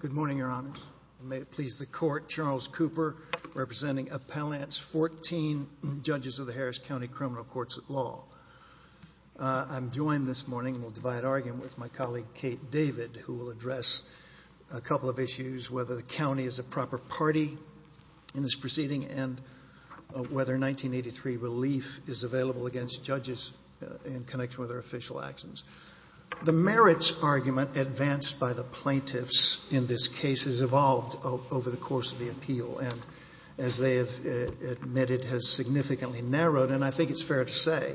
Good morning, Your Honors. May it please the Court, Charles Cooper, representing Appellants 14, Judges of the Harris County Criminal Courts at Law. I'm joined this morning, we'll divide argument with my colleague Kate David, who will address a couple of issues, whether the county is a proper party in this proceeding, and whether 1983 relief is available against judges in connection with their official actions. The merits argument advanced by the plaintiffs in this case has evolved over the course of the appeal, and as they have admitted, has significantly narrowed, and I think it's fair to say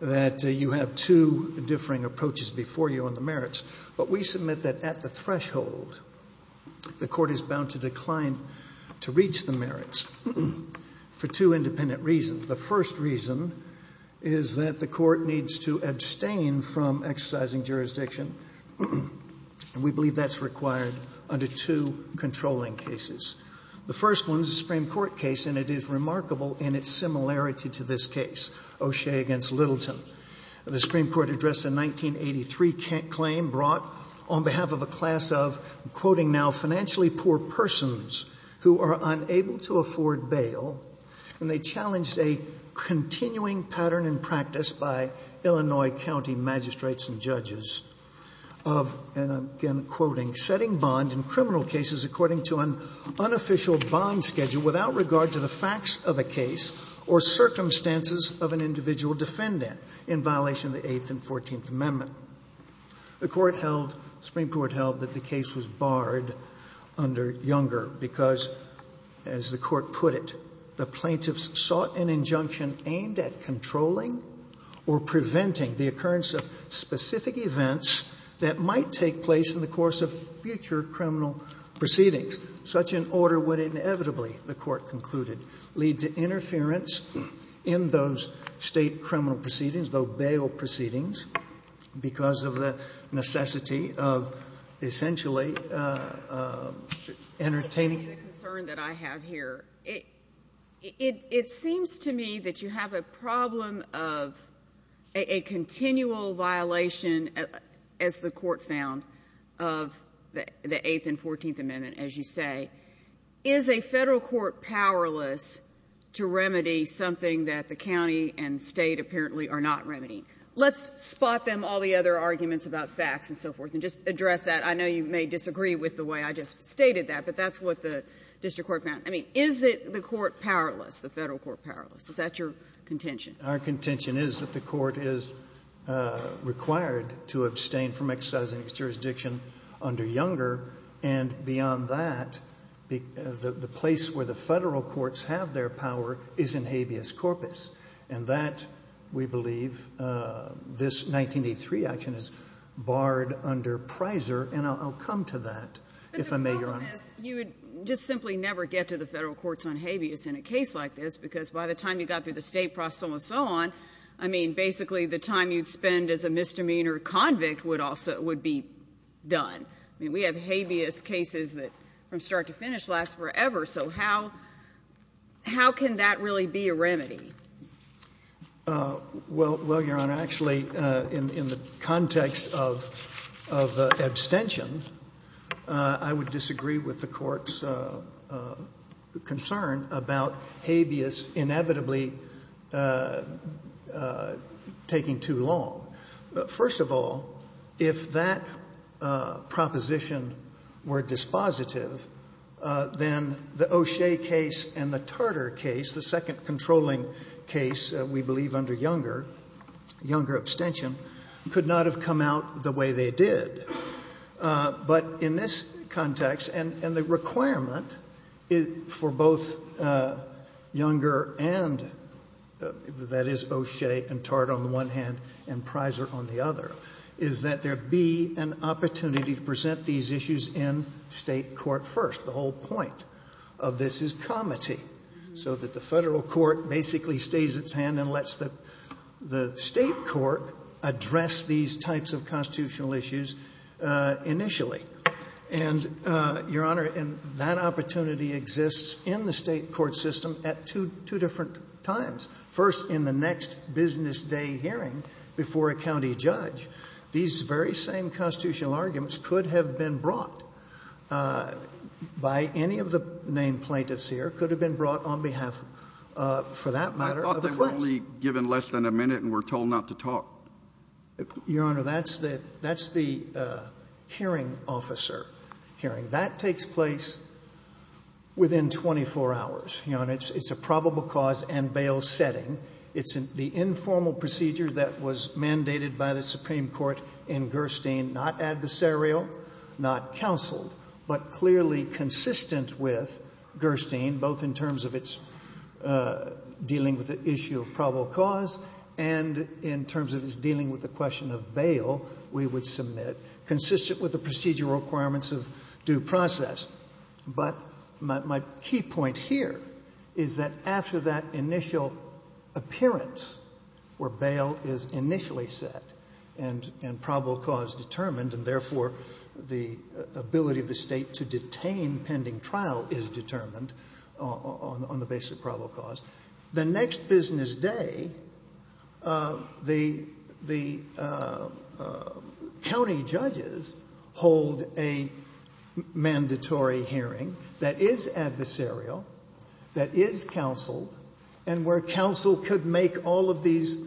that you have two differing approaches before you on the merits. But we submit that at the threshold, the court is bound to decline to reach the merits for two independent reasons. The first reason is that the court needs to abstain from exercising jurisdiction, and we believe that's required under two controlling cases. The first one is a Supreme Court case, and it is remarkable in its similarity to this case, O'Shea v. Littleton. The Supreme Court addressed a 1983 claim brought on behalf of a class of, I'm quoting now, financially poor persons who are unable to afford bail, and they challenged a continuing pattern in practice by Illinois County magistrates and judges of, and I'm again quoting, setting bond in criminal cases according to an unofficial bond schedule without regard to the facts of a case or circumstances of an individual defendant in violation of the Eighth and Fourteenth Amendment. The court held, the Supreme Court held that the case was barred under Younger because, as the court put it, the plaintiffs sought an injunction aimed at controlling or preventing the occurrence of specific events that might take place in the course of future criminal proceedings. It seems to me that you have a problem of a continual violation, as the court found, of the Eighth and Fourteenth Amendment, as you said. Is a Federal court powerless to remedy something that the County and State apparently are not remedying? Let's spot them all the other arguments about facts and so forth and just address that. I know you may disagree with the way I just stated that, but that's what the district court found. I mean, is the court powerless, the Federal court powerless? Is that your contention? Our contention is that the court is required to abstain from exercising its jurisdiction under Younger. And beyond that, the place where the Federal courts have their power is in habeas corpus. And that, we believe, this 1983 action is barred under Prizer. And I'll come to that, if I may, Your Honor. You would just simply never get to the Federal courts on habeas in a case like this, because by the time you got through the State process and so on, I mean, basically, the time you'd spend as a misdemeanor convict would be done. I mean, we have habeas cases that, from start to finish, last forever. So how can that really be a remedy? Well, Your Honor, actually, in the context of abstention, I would disagree with the court's concern about habeas inevitably taking too long. First of all, if that proposition were dispositive, then the O'Shea case and the Tartar case, the second controlling case, we believe under Younger, Younger abstention, could not have come out the way they did. But in this context, and the requirement for both Younger and, that is, O'Shea and Tartar on the one hand, and Prizer on the other, is that there be an opportunity to present these issues in State court first. The whole point of this is comity, so that the Federal court basically stays its hand and lets the State court address these types of constitutional issues initially. And, Your Honor, that opportunity exists in the State court system at two different times. First, in the next business day hearing before a county judge, these very same constitutional arguments could have been brought by any of the named plaintiffs here, could have been brought on behalf, for that matter, of the plaintiffs. I thought they were only given less than a minute and were told not to talk. Your Honor, that's the hearing officer hearing. That takes place within 24 hours, Your Honor. It's a probable cause and bail setting. It's the informal procedure that was mandated by the Supreme Court in Gerstein, not adversarial, not counseled, but clearly consistent with Gerstein, both in terms of its dealing with the issue of probable cause and in terms of its dealing with the question of bail, we would submit, consistent with the procedural requirements of due process. But my key point here is that after that initial appearance where bail is initially set and probable cause determined and, therefore, the ability of the State to detain pending trial is determined on the basis of probable cause, the next business day, the county judges hold a mandatory hearing that is adversarial, that is counseled, and where counsel could make all of these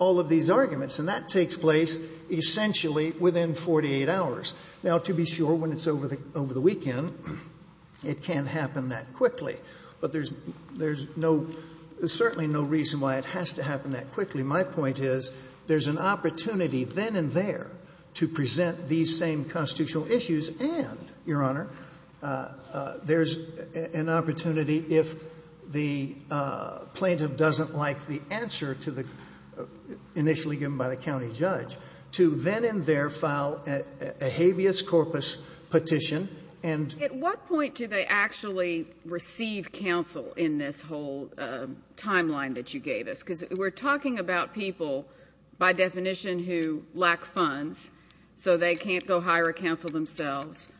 arguments. And that takes place, essentially, within 48 hours. Now, to be sure, when it's over the weekend, it can't happen that quickly. But there's no — there's certainly no reason why it has to happen that quickly. My point is there's an opportunity then and there to present these same constitutional issues and, Your Honor, there's an opportunity if the plaintiff doesn't like the answer to the — initially given by the county judge, to then and there file a habeas corpus petition and — At what point do they actually receive counsel in this whole timeline that you gave us? Because we're talking about people, by definition, who lack funds, so they can't go hire a counsel themselves.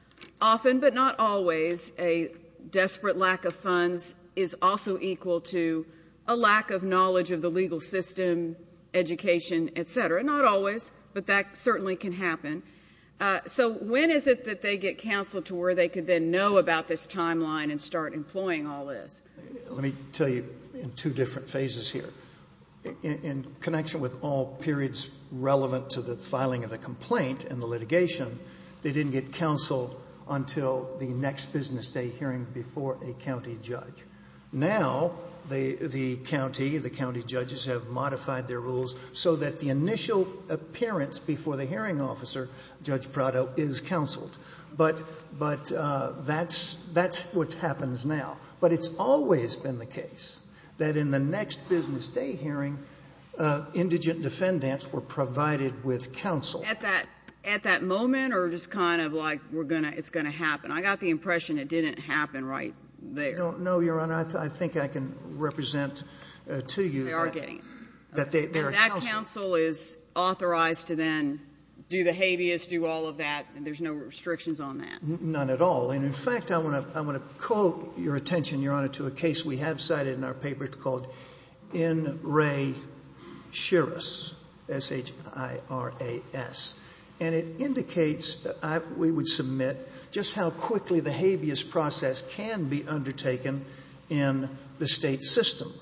Often, but not always, a desperate lack of funds is also equal to a lack of knowledge of the legal system, education, et cetera. Not always, but that certainly can happen. So when is it that they get counsel to where they could then know about this timeline and start employing all this? Let me tell you in two different phases here. In connection with all periods relevant to the filing of the complaint and the litigation, they didn't get counsel until the next business day hearing before a county judge. Now, the county, the county judges have modified their rules so that the initial appearance before the hearing officer, Judge Prado, is counseled. But that's what happens now. But it's always been the case that in the next business day hearing, indigent defendants were provided with counsel. At that moment or just kind of like we're going to — it's going to happen? I got the impression it didn't happen right there. No, Your Honor. I think I can represent to you that — They are getting it. And that counsel is authorized to then do the habeas, do all of that, and there's no restrictions on that? None at all. And, in fact, I want to call your attention, Your Honor, to a case we have cited in our paper called N. Ray Shiras, S-H-I-R-A-S. And it indicates, we would submit, just how quickly the habeas process can be undertaken in the state system.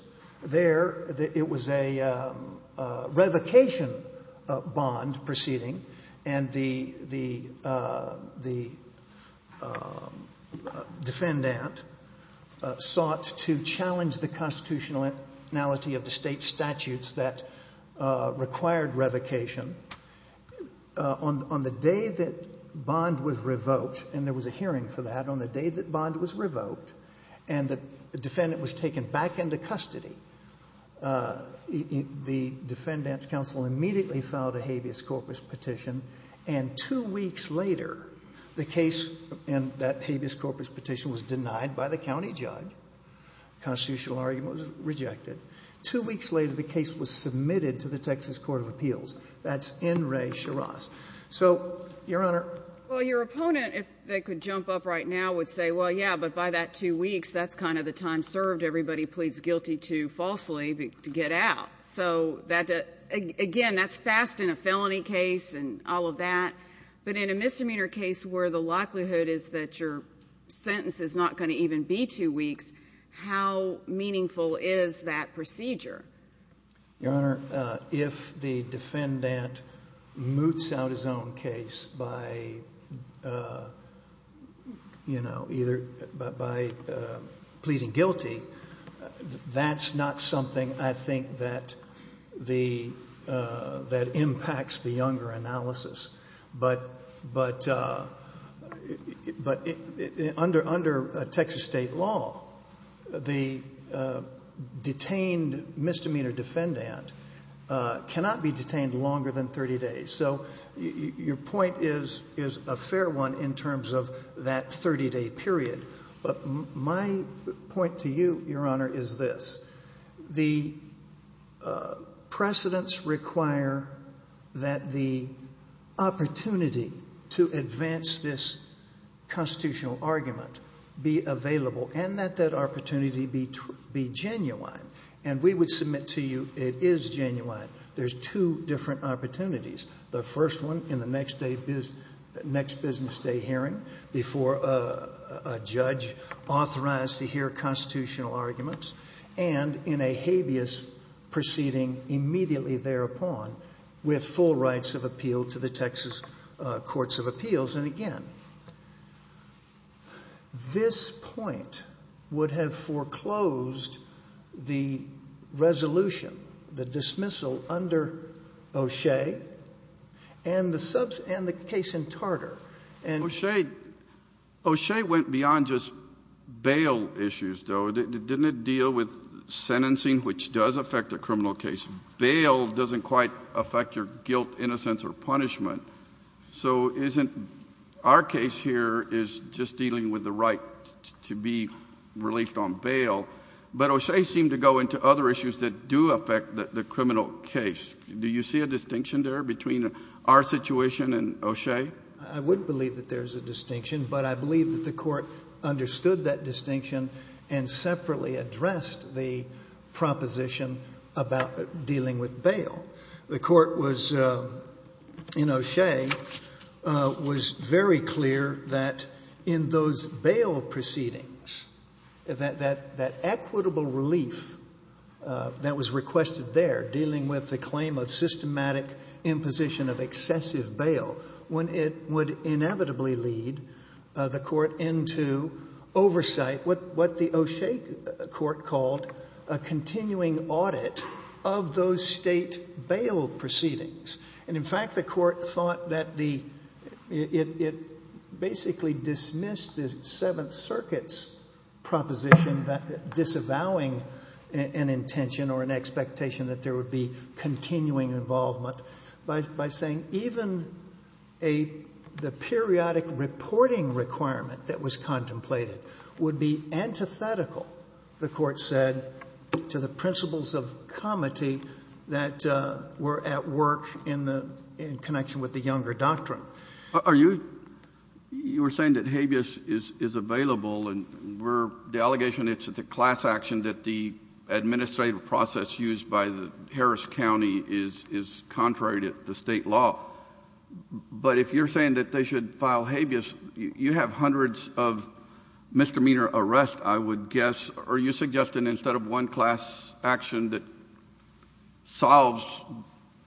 There, it was a revocation bond proceeding, and the defendant sought to challenge the constitutionality of the state statutes that required revocation. On the day that bond was revoked, and there was a hearing for that, on the day that bond was revoked, and the defendant was taken back into custody, the defendants' counsel immediately filed a habeas corpus petition. And two weeks later, the case in that habeas corpus petition was denied by the county judge. The constitutional argument was rejected. Two weeks later, the case was submitted to the Texas Court of Appeals. That's N. Ray Shiras. So, Your Honor. Well, your opponent, if they could jump up right now, would say, well, yeah, but by that two weeks, that's kind of the time served. Everybody pleads guilty to falsely to get out. So that, again, that's fast in a felony case and all of that. But in a misdemeanor case where the likelihood is that your sentence is not going to even be two weeks, how meaningful is that procedure? Your Honor, if the defendant moots out his own case by, you know, either by pleading guilty, that's not something, I think, that impacts the younger analysis. But under Texas state law, the detained misdemeanor defendant cannot be detained longer than 30 days. So your point is a fair one in terms of that 30-day period. But my point to you, Your Honor, is this. The precedents require that the opportunity to advance this constitutional argument be available and that that opportunity be genuine. And we would submit to you it is genuine. There's two different opportunities. The first one in the next business day hearing before a judge authorized to hear constitutional arguments and in a habeas proceeding immediately thereupon with full rights of appeal to the Texas Courts of Appeals. And again, this point would have foreclosed the resolution, the dismissal under O'Shea and the case in Tartar. O'Shea went beyond just bail issues, though. Didn't it deal with sentencing, which does affect a criminal case? Bail doesn't quite affect your guilt, innocence or punishment. So isn't our case here is just dealing with the right to be released on bail? But O'Shea seemed to go into other issues that do affect the criminal case. Do you see a distinction there between our situation and O'Shea? I would believe that there's a distinction, but I believe that the Court understood that distinction and separately addressed the proposition about dealing with bail. The Court was, in O'Shea, was very clear that in those bail proceedings, that equitable relief that was requested there, dealing with the claim of systematic imposition of excessive bail, when it would inevitably lead the Court into oversight, what the O'Shea Court called a continuing audit of those state bail proceedings. And in fact, the Court thought that the – it basically dismissed the Seventh Circuit's proposition disavowing an intention or an expectation that there would be continuing involvement by saying even a – the periodic reporting requirement that was contemplated would be antithetical, the Court said, to the principles of comity that were at work in the – in connection with the Younger Doctrine. Are you – you were saying that habeas is available and we're – the allegation is that the class action that the administrative process used by the Harris County is contrary to the State law. But if you're saying that they should file habeas, you have hundreds of misdemeanor arrests, I would guess. Are you suggesting instead of one class action that solves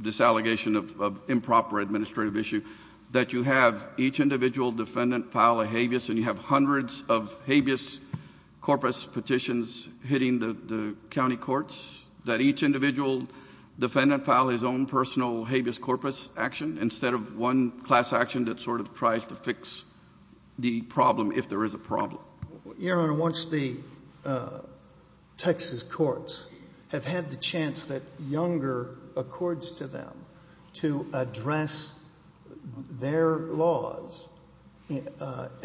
this allegation of improper administrative issue, that you have each individual defendant file a habeas and you have hundreds of habeas corpus petitions hitting the county courts, that each individual defendant file his own personal habeas corpus action instead of one class action that sort of tries to fix the problem if there is a problem? Your Honor, once the Texas courts have had the chance that Younger accords to them to address their laws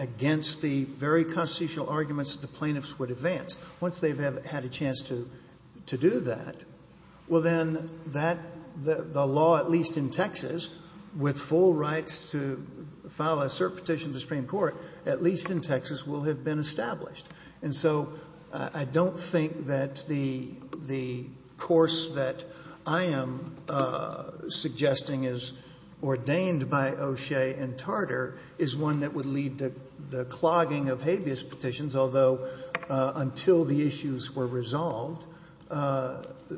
against the very constitutional arguments that the plaintiffs would advance, once they've had a chance to do that, well, then that – the law at least in Texas with full rights to file a cert petition to the Supreme Court at least in Texas will have been established. And so I don't think that the course that I am suggesting is ordained by O'Shea and until the issues were resolved,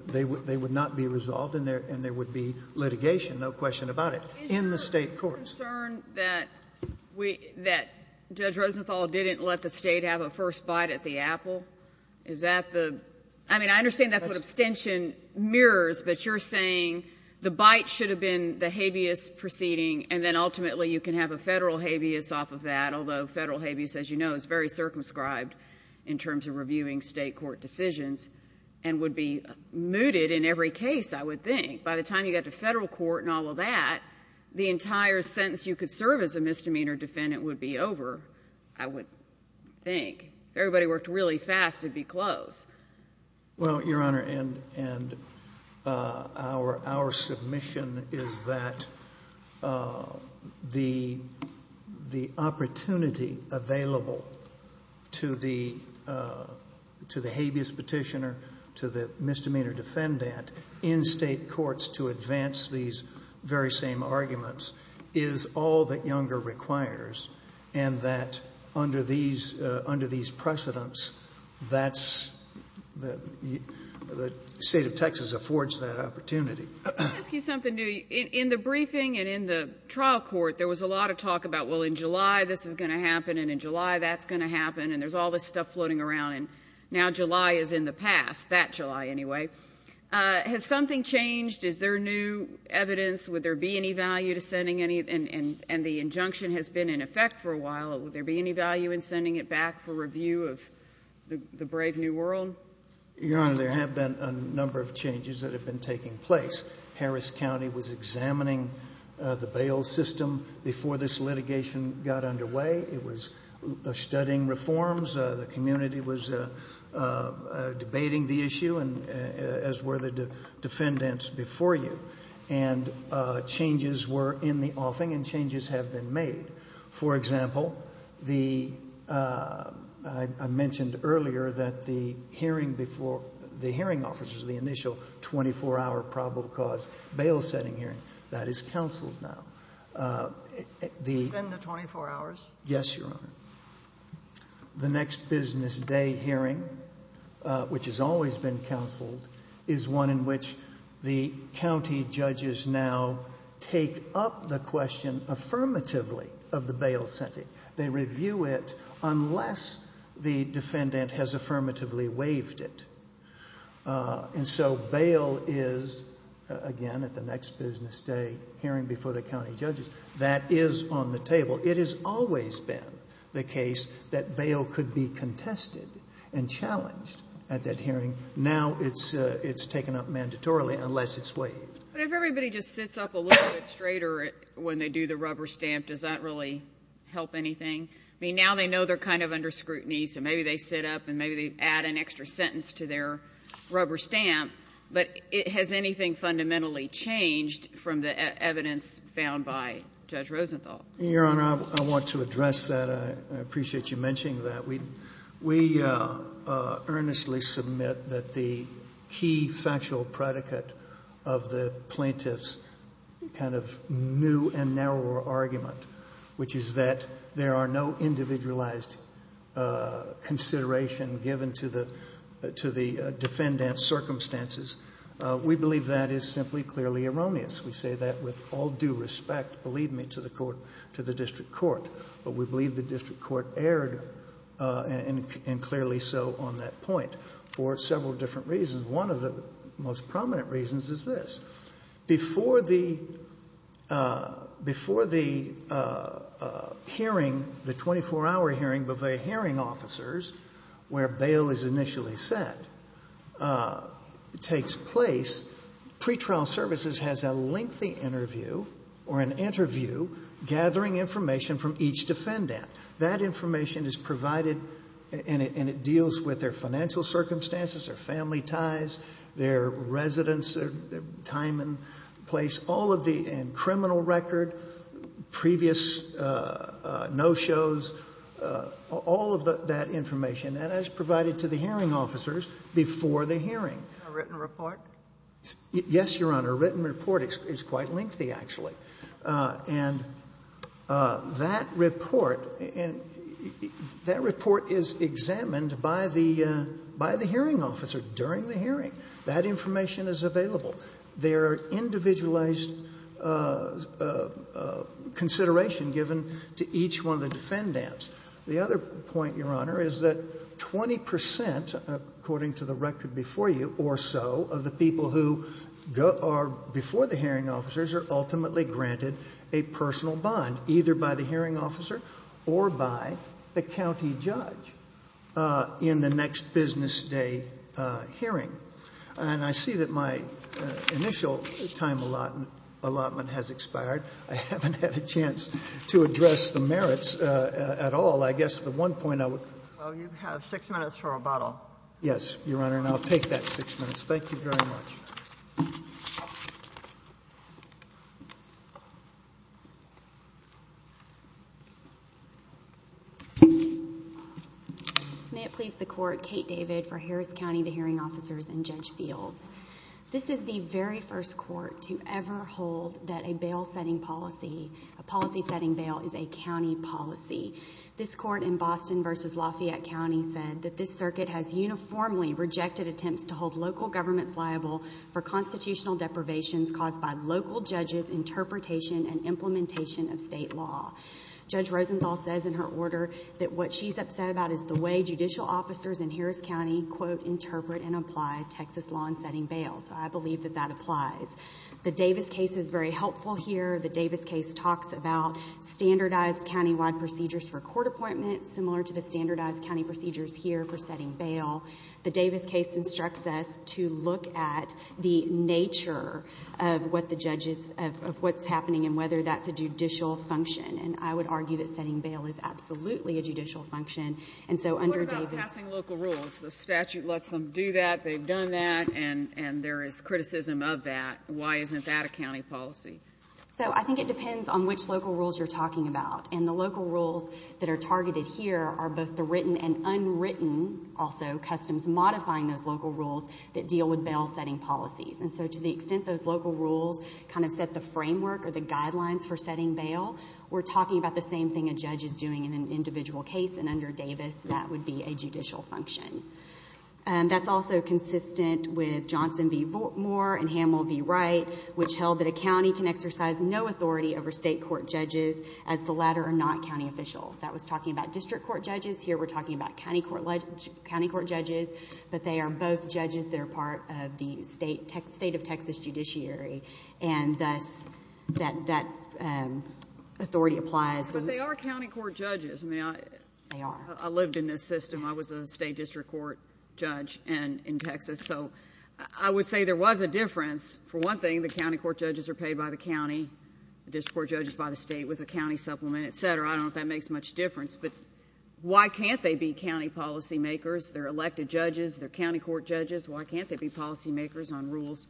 they would not be resolved and there would be litigation, no question about it, in the State courts. Is there a concern that Judge Rosenthal didn't let the State have a first bite at the apple? Is that the – I mean, I understand that's what abstention mirrors, but you're saying the bite should have been the habeas proceeding and then ultimately you can have a Federal habeas off of that, although Federal habeas, as you know, is very circumscribed in terms of reviewing State court decisions and would be mooted in every case, I would think. By the time you got to Federal court and all of that, the entire sentence you could serve as a misdemeanor defendant would be over, I would think. If everybody worked really fast, it would be close. Well, Your Honor, and our submission is that the opportunity available to the habeas petitioner, to the misdemeanor defendant in State courts to advance these very same arguments is all that Younger requires and that under these precedents, that's – the State of Texas affords that opportunity. Let me ask you something, Dewey. In the briefing and in the trial court, there was a lot of talk about, well, in July this is going to happen and in July that's going to happen and there's all this stuff floating around and now July is in the past, that July anyway. Has something changed? Is there new evidence? Would there be any value to sending any – and the injunction has been in effect for a while. Would there be any value in sending it back for review of the brave new world? Your Honor, there have been a number of changes that have been taking place. Harris County was examining the bail system before this litigation got underway. It was studying reforms. The community was debating the issue, as were the defendants before you. And changes were in the offing and changes have been made. For example, the – I mentioned earlier that the hearing before – the hearing officers, the initial 24-hour probable cause bail setting hearing, that is counseled now. Within the 24 hours? Yes, Your Honor. The next business day hearing, which has always been counseled, is one in which the county judges now take up the question affirmatively of the bail setting. They review it unless the defendant has affirmatively waived it. And so bail is, again, at the next business day hearing before the county judges, that is on the table. It has always been the case that bail could be contested and challenged at that hearing. Now it's taken up mandatorily unless it's waived. But if everybody just sits up a little bit straighter when they do the rubber stamp, does that really help anything? I mean, now they know they're kind of under scrutiny, so maybe they sit up and maybe they add an extra sentence to their rubber stamp. But has anything fundamentally changed from the evidence found by Judge Rosenthal? Your Honor, I want to address that. I appreciate you mentioning that. We earnestly submit that the key factual predicate of the plaintiff's kind of new and narrower argument, which is that there are no individualized considerations given to the defendant's circumstances, we believe that is simply clearly erroneous. We say that with all due respect, believe me, to the court, to the district court. But we believe the district court erred, and clearly so on that point, for several different reasons. One of the most prominent reasons is this. Before the hearing, the 24-hour hearing before the hearing officers where bail is initially set takes place, pretrial services has a lengthy interview or an interview gathering information from each defendant. That information is provided, and it deals with their financial circumstances, their family ties, their residence, their time and place, all of the criminal record, previous no-shows, all of that information, and that is provided to the hearing officers before the hearing. A written report? Yes, Your Honor. A written report is quite lengthy, actually. And that report is examined by the hearing officer during the hearing. That information is available. There are individualized considerations given to each one of the defendants. The other point, Your Honor, is that 20 percent, according to the record before you or so, of the people who are before the hearing officers are ultimately granted a personal bond, either by the hearing officer or by the county judge in the next business day hearing. And I see that my initial time allotment has expired. I haven't had a chance to address the merits at all. I guess the one point I would. Well, you have six minutes for rebuttal. Yes, Your Honor, and I'll take that six minutes. Thank you very much. May it please the Court, Kate David for Harris County, the hearing officers, and Judge Fields. This is the very first court to ever hold that a bail setting policy, a policy setting bail, is a county policy. This court in Boston v. Lafayette County said that this circuit has uniformly rejected attempts to hold local governments liable for constitutional deprivations caused by local judges' interpretation and implementation of state law. Judge Rosenthal says in her order that what she's upset about is the way judicial officers in Harris County, quote, interpret and apply Texas law in setting bails. I believe that that applies. The Davis case is very helpful here. The Davis case talks about standardized countywide procedures for court appointments, similar to the standardized county procedures here for setting bail. The Davis case instructs us to look at the nature of what the judge is, of what's happening, and whether that's a judicial function. And I would argue that setting bail is absolutely a judicial function. What about passing local rules? The statute lets them do that, they've done that, and there is criticism of that. Why isn't that a county policy? So I think it depends on which local rules you're talking about. And the local rules that are targeted here are both the written and unwritten, also, customs modifying those local rules that deal with bail setting policies. And so to the extent those local rules kind of set the framework or the guidelines for setting bail, we're talking about the same thing a judge is doing in an individual case, and under Davis, that would be a judicial function. That's also consistent with Johnson v. Moore and Hamill v. Wright, which held that a county can exercise no authority over state court judges as the latter are not county officials. That was talking about district court judges. Here we're talking about county court judges, but they are both judges that are part of the state of Texas judiciary. And thus that authority applies. But they are county court judges. I mean, I lived in this system. I was a state district court judge in Texas. So I would say there was a difference. For one thing, the county court judges are paid by the county, the district court judges by the state with a county supplement, et cetera. I don't know if that makes much difference. But why can't they be county policymakers? They're elected judges, they're county court judges. Why can't they be policymakers on rules?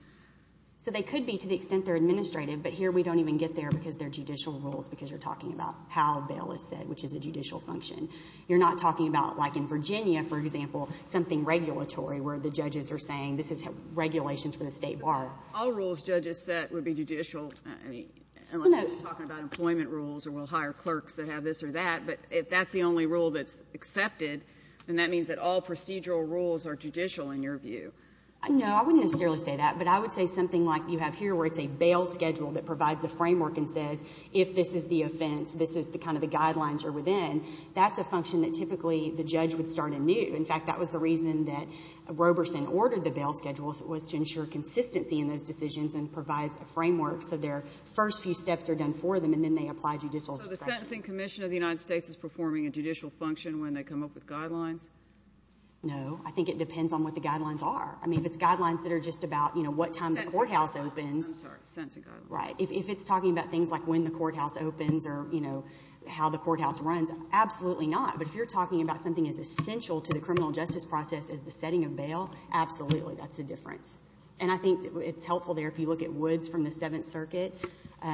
So they could be to the extent they're administrative, but here we don't even get there because they're judicial rules because you're talking about how a bill is set, which is a judicial function. You're not talking about like in Virginia, for example, something regulatory where the judges are saying this is regulations for the state bar. All rules judges set would be judicial. I mean, unless you're talking about employment rules or we'll hire clerks that have this or that. But if that's the only rule that's accepted, then that means that all procedural rules are judicial in your view. No, I wouldn't necessarily say that, but I would say something like you have here where it's a bail schedule that provides a framework and says if this is the offense, this is kind of the guidelines you're within, that's a function that typically the judge would start anew. In fact, that was the reason that Roberson ordered the bail schedule was to ensure consistency in those decisions and provides a framework so their first few steps are done for them and then they apply judicial discretion. So the Sentencing Commission of the United States is performing a judicial function when they come up with guidelines? No. I think it depends on what the guidelines are. I mean, if it's guidelines that are just about, you know, what time the courthouse opens. I'm sorry, sentencing guidelines. Right. If it's talking about things like when the courthouse opens or, you know, how the courthouse runs, absolutely not. But if you're talking about something as essential to the criminal justice process as the setting of bail, absolutely that's a difference. And I think it's helpful there if you look at Woods from the Seventh Circuit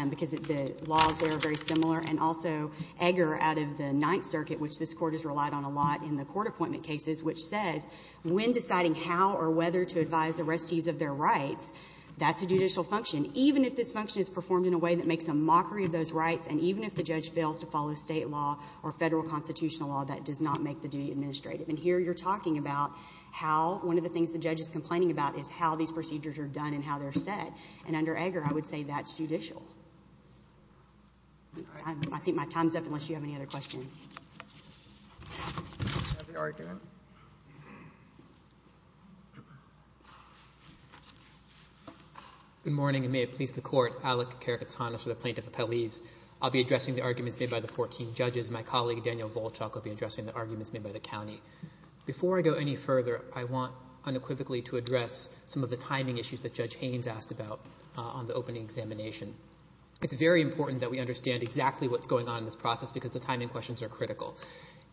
because the laws there are very similar and also Egger out of the Ninth Circuit, which this Court has relied on a lot in the court appointment cases, which says when deciding how or whether to advise the restees of their rights, that's a judicial function. Even if this function is performed in a way that makes a mockery of those rights and even if the judge fails to follow state law or federal constitutional law, that does not make the duty administrative. And here you're talking about how one of the things the judge is complaining about is how these procedures are done and how they're set. And under Egger, I would say that's judicial. I think my time's up unless you have any other questions. Good morning, and may it please the Court. Alec Karakatsanis with the Plaintiff Appellees. I'll be addressing the arguments made by the 14 judges. My colleague, Daniel Volchok, will be addressing the arguments made by the county. Before I go any further, I want unequivocally to address some of the timing issues that Judge Haynes asked about on the opening examination. It's very important that we understand exactly what's going on in this process because the timing questions are critical.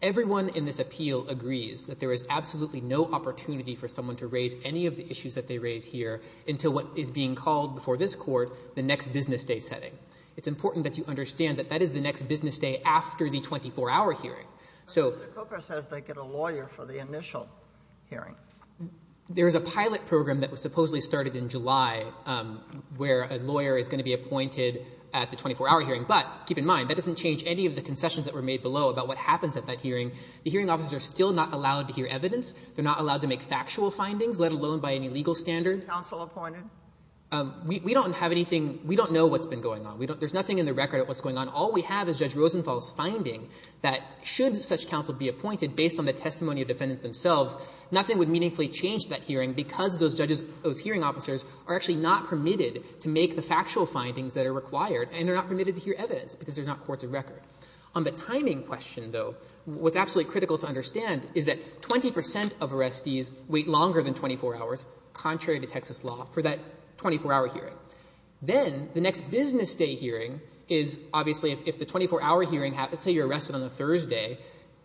Everyone in this appeal agrees that there is absolutely no opportunity for someone to raise any of the issues that they raise here until what is being called before this Court the next business day setting. It's important that you understand that that is the next business day after the 24-hour hearing. Mr. Coker says they get a lawyer for the initial hearing. There is a pilot program that was supposedly started in July where a lawyer is going to be appointed at the 24-hour hearing. But keep in mind, that doesn't change any of the concessions that were made below about what happens at that hearing. The hearing officers are still not allowed to hear evidence. They're not allowed to make factual findings, let alone by any legal standard. Counsel appointed? We don't have anything. We don't know what's been going on. There's nothing in the record of what's going on. All we have is Judge Rosenthal's finding that should such counsel be appointed based on the testimony of defendants themselves, nothing would meaningfully change that hearing because those hearing officers are actually not permitted to make the factual findings that are required and they're not permitted to hear evidence because there's not courts of record. On the timing question, though, what's absolutely critical to understand is that 20% of arrestees wait longer than 24 hours, contrary to Texas law, for that 24-hour hearing. Then, the next business day hearing is, obviously, if the 24-hour hearing happens, say you're arrested on a Thursday,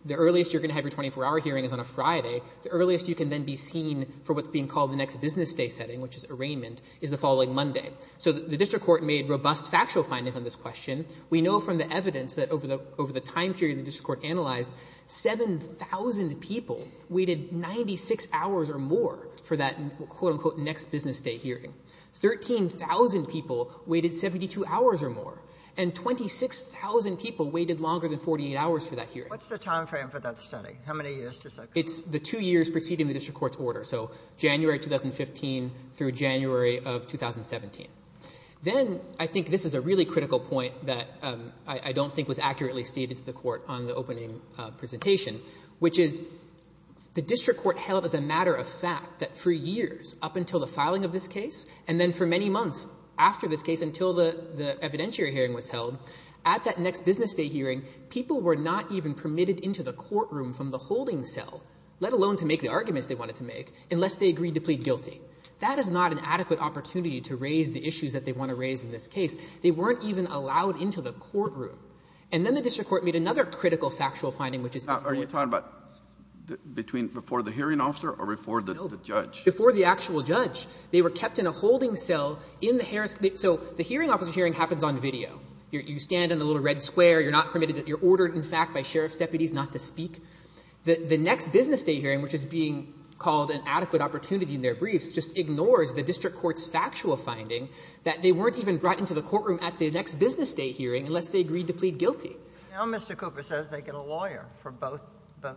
the earliest you're going to have your 24-hour hearing is on a Friday. The earliest you can then be seen for what's being called the next business day setting, which is arraignment, is the following Monday. So the district court made robust factual findings on this question. We know from the evidence that over the time period the district court analyzed, 7,000 people waited 96 hours or more for that, quote-unquote, next business day hearing. 13,000 people waited 72 hours or more. And 26,000 people waited longer than 48 hours for that hearing. What's the timeframe for that study? How many years does that take? It's the two years preceding the district court's order, so January 2015 through January of 2017. Then, I think this is a really critical point that I don't think was accurately stated to the court on the opening presentation, which is the district court held as a matter of fact that for years, up until the filing of this case, and then for many months after this case until the evidentiary hearing was held, at that next business day hearing, people were not even permitted into the courtroom from the holding cell, let alone to make the arguments they wanted to make, unless they agreed to plead guilty. That is not an adequate opportunity to raise the issues that they want to raise in this case. They weren't even allowed into the courtroom. And then the district court made another critical factual finding, which is... Now, are you talking about between before the hearing officer or before the judge? No, before the actual judge. They were kept in a holding cell in the Harris. So the hearing officer hearing happens on video. You stand in the little red square. You're not permitted. You're ordered, in fact, by sheriff's deputies not to speak. The next business day hearing, which is being called an adequate opportunity in their briefs, just ignores the district court's factual finding that they weren't even brought into the courtroom at the next business day hearing unless they agreed to plead guilty. Now Mr. Cooper says they get a lawyer for both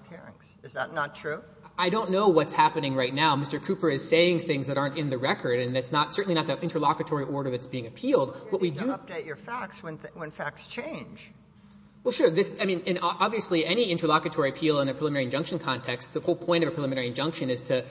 hearings. Is that not true? I don't know what's happening right now. Mr. Cooper is saying things that aren't in the record, and that's certainly not the interlocutory order that's being appealed. What we do... I mean, obviously any interlocutory appeal in a preliminary injunction context, the whole point of a preliminary injunction is to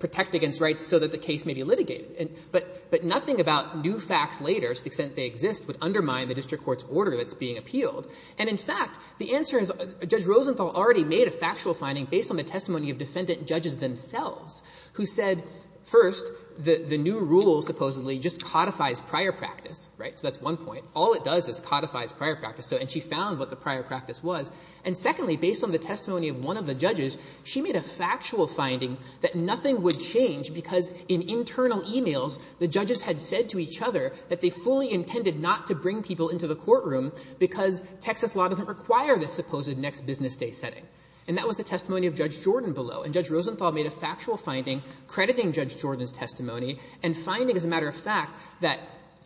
protect against rights so that the case may be litigated. But nothing about new facts later, to the extent they exist, would undermine the district court's order that's being appealed. And in fact, the answer is Judge Rosenthal already made a factual finding based on the testimony of defendant judges themselves who said, first, the new rule supposedly just codifies prior practice, right? So that's one point. All it does is codifies prior practice. And she found what the prior practice was. And secondly, based on the testimony of one of the judges, she made a factual finding that nothing would change because in internal e-mails, the judges had said to each other that they fully intended not to bring people into the courtroom because Texas law doesn't require this supposed next business day setting. And that was the testimony of Judge Jordan below. And Judge Rosenthal made a factual finding crediting Judge Jordan's testimony and finding, as a matter of fact, that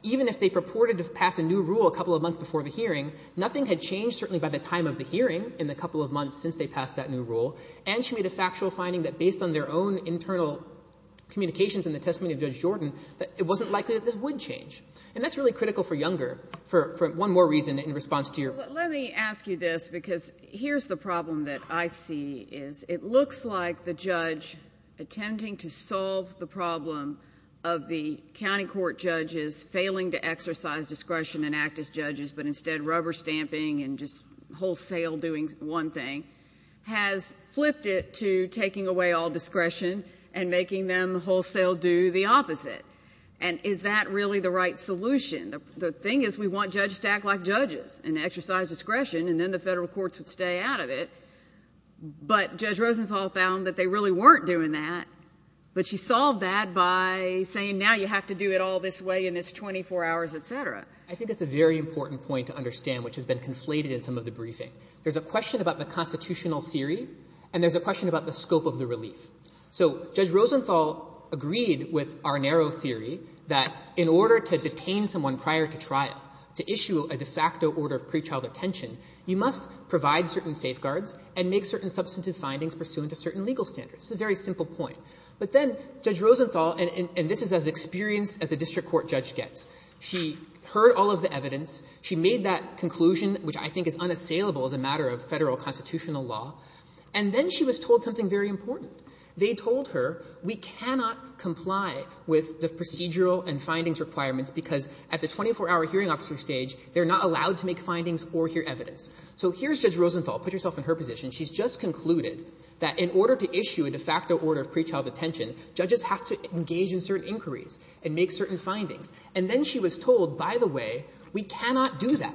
even if they purported to pass a new rule a couple of months before the hearing, nothing had changed, certainly by the time of the hearing in the couple of months since they passed that new rule. And she made a factual finding that based on their own internal communications in the testimony of Judge Jordan, that it wasn't likely that this would change. And that's really critical for Younger for one more reason in response to your... Let me ask you this because here's the problem that I see is it looks like the judge attempting to solve the problem of the county court judges failing to exercise discretion and act as judges but instead rubber stamping and just wholesale doing one thing has flipped it to taking away all discretion and making them wholesale do the opposite. And is that really the right solution? The thing is we want judges to act like judges and exercise discretion and then the federal courts would stay out of it. But Judge Rosenthal found that they really weren't doing that. But she solved that by saying now you have to do it all this way and it's 24 hours, et cetera. I think that's a very important point to understand which has been conflated in some of the briefing. There's a question about the constitutional theory and there's a question about the scope of the relief. So Judge Rosenthal agreed with our narrow theory that in order to detain someone prior to trial to issue a de facto order of pre-trial detention you must provide certain safeguards and make certain substantive findings pursuant to certain legal standards. It's a very simple point. But then Judge Rosenthal, and this is as experienced as a district court judge gets, she heard all of the evidence. She made that conclusion, which I think is unassailable as a matter of federal constitutional law. And then she was told something very important. They told her we cannot comply with the procedural and findings requirements because at the 24-hour hearing officer stage they're not allowed to make findings or hear evidence. So here's Judge Rosenthal. Put yourself in her position. She's just concluded that in order to issue a de facto order of pre-trial detention judges have to engage in certain inquiries and make certain findings. And then she was told, by the way, we cannot do that.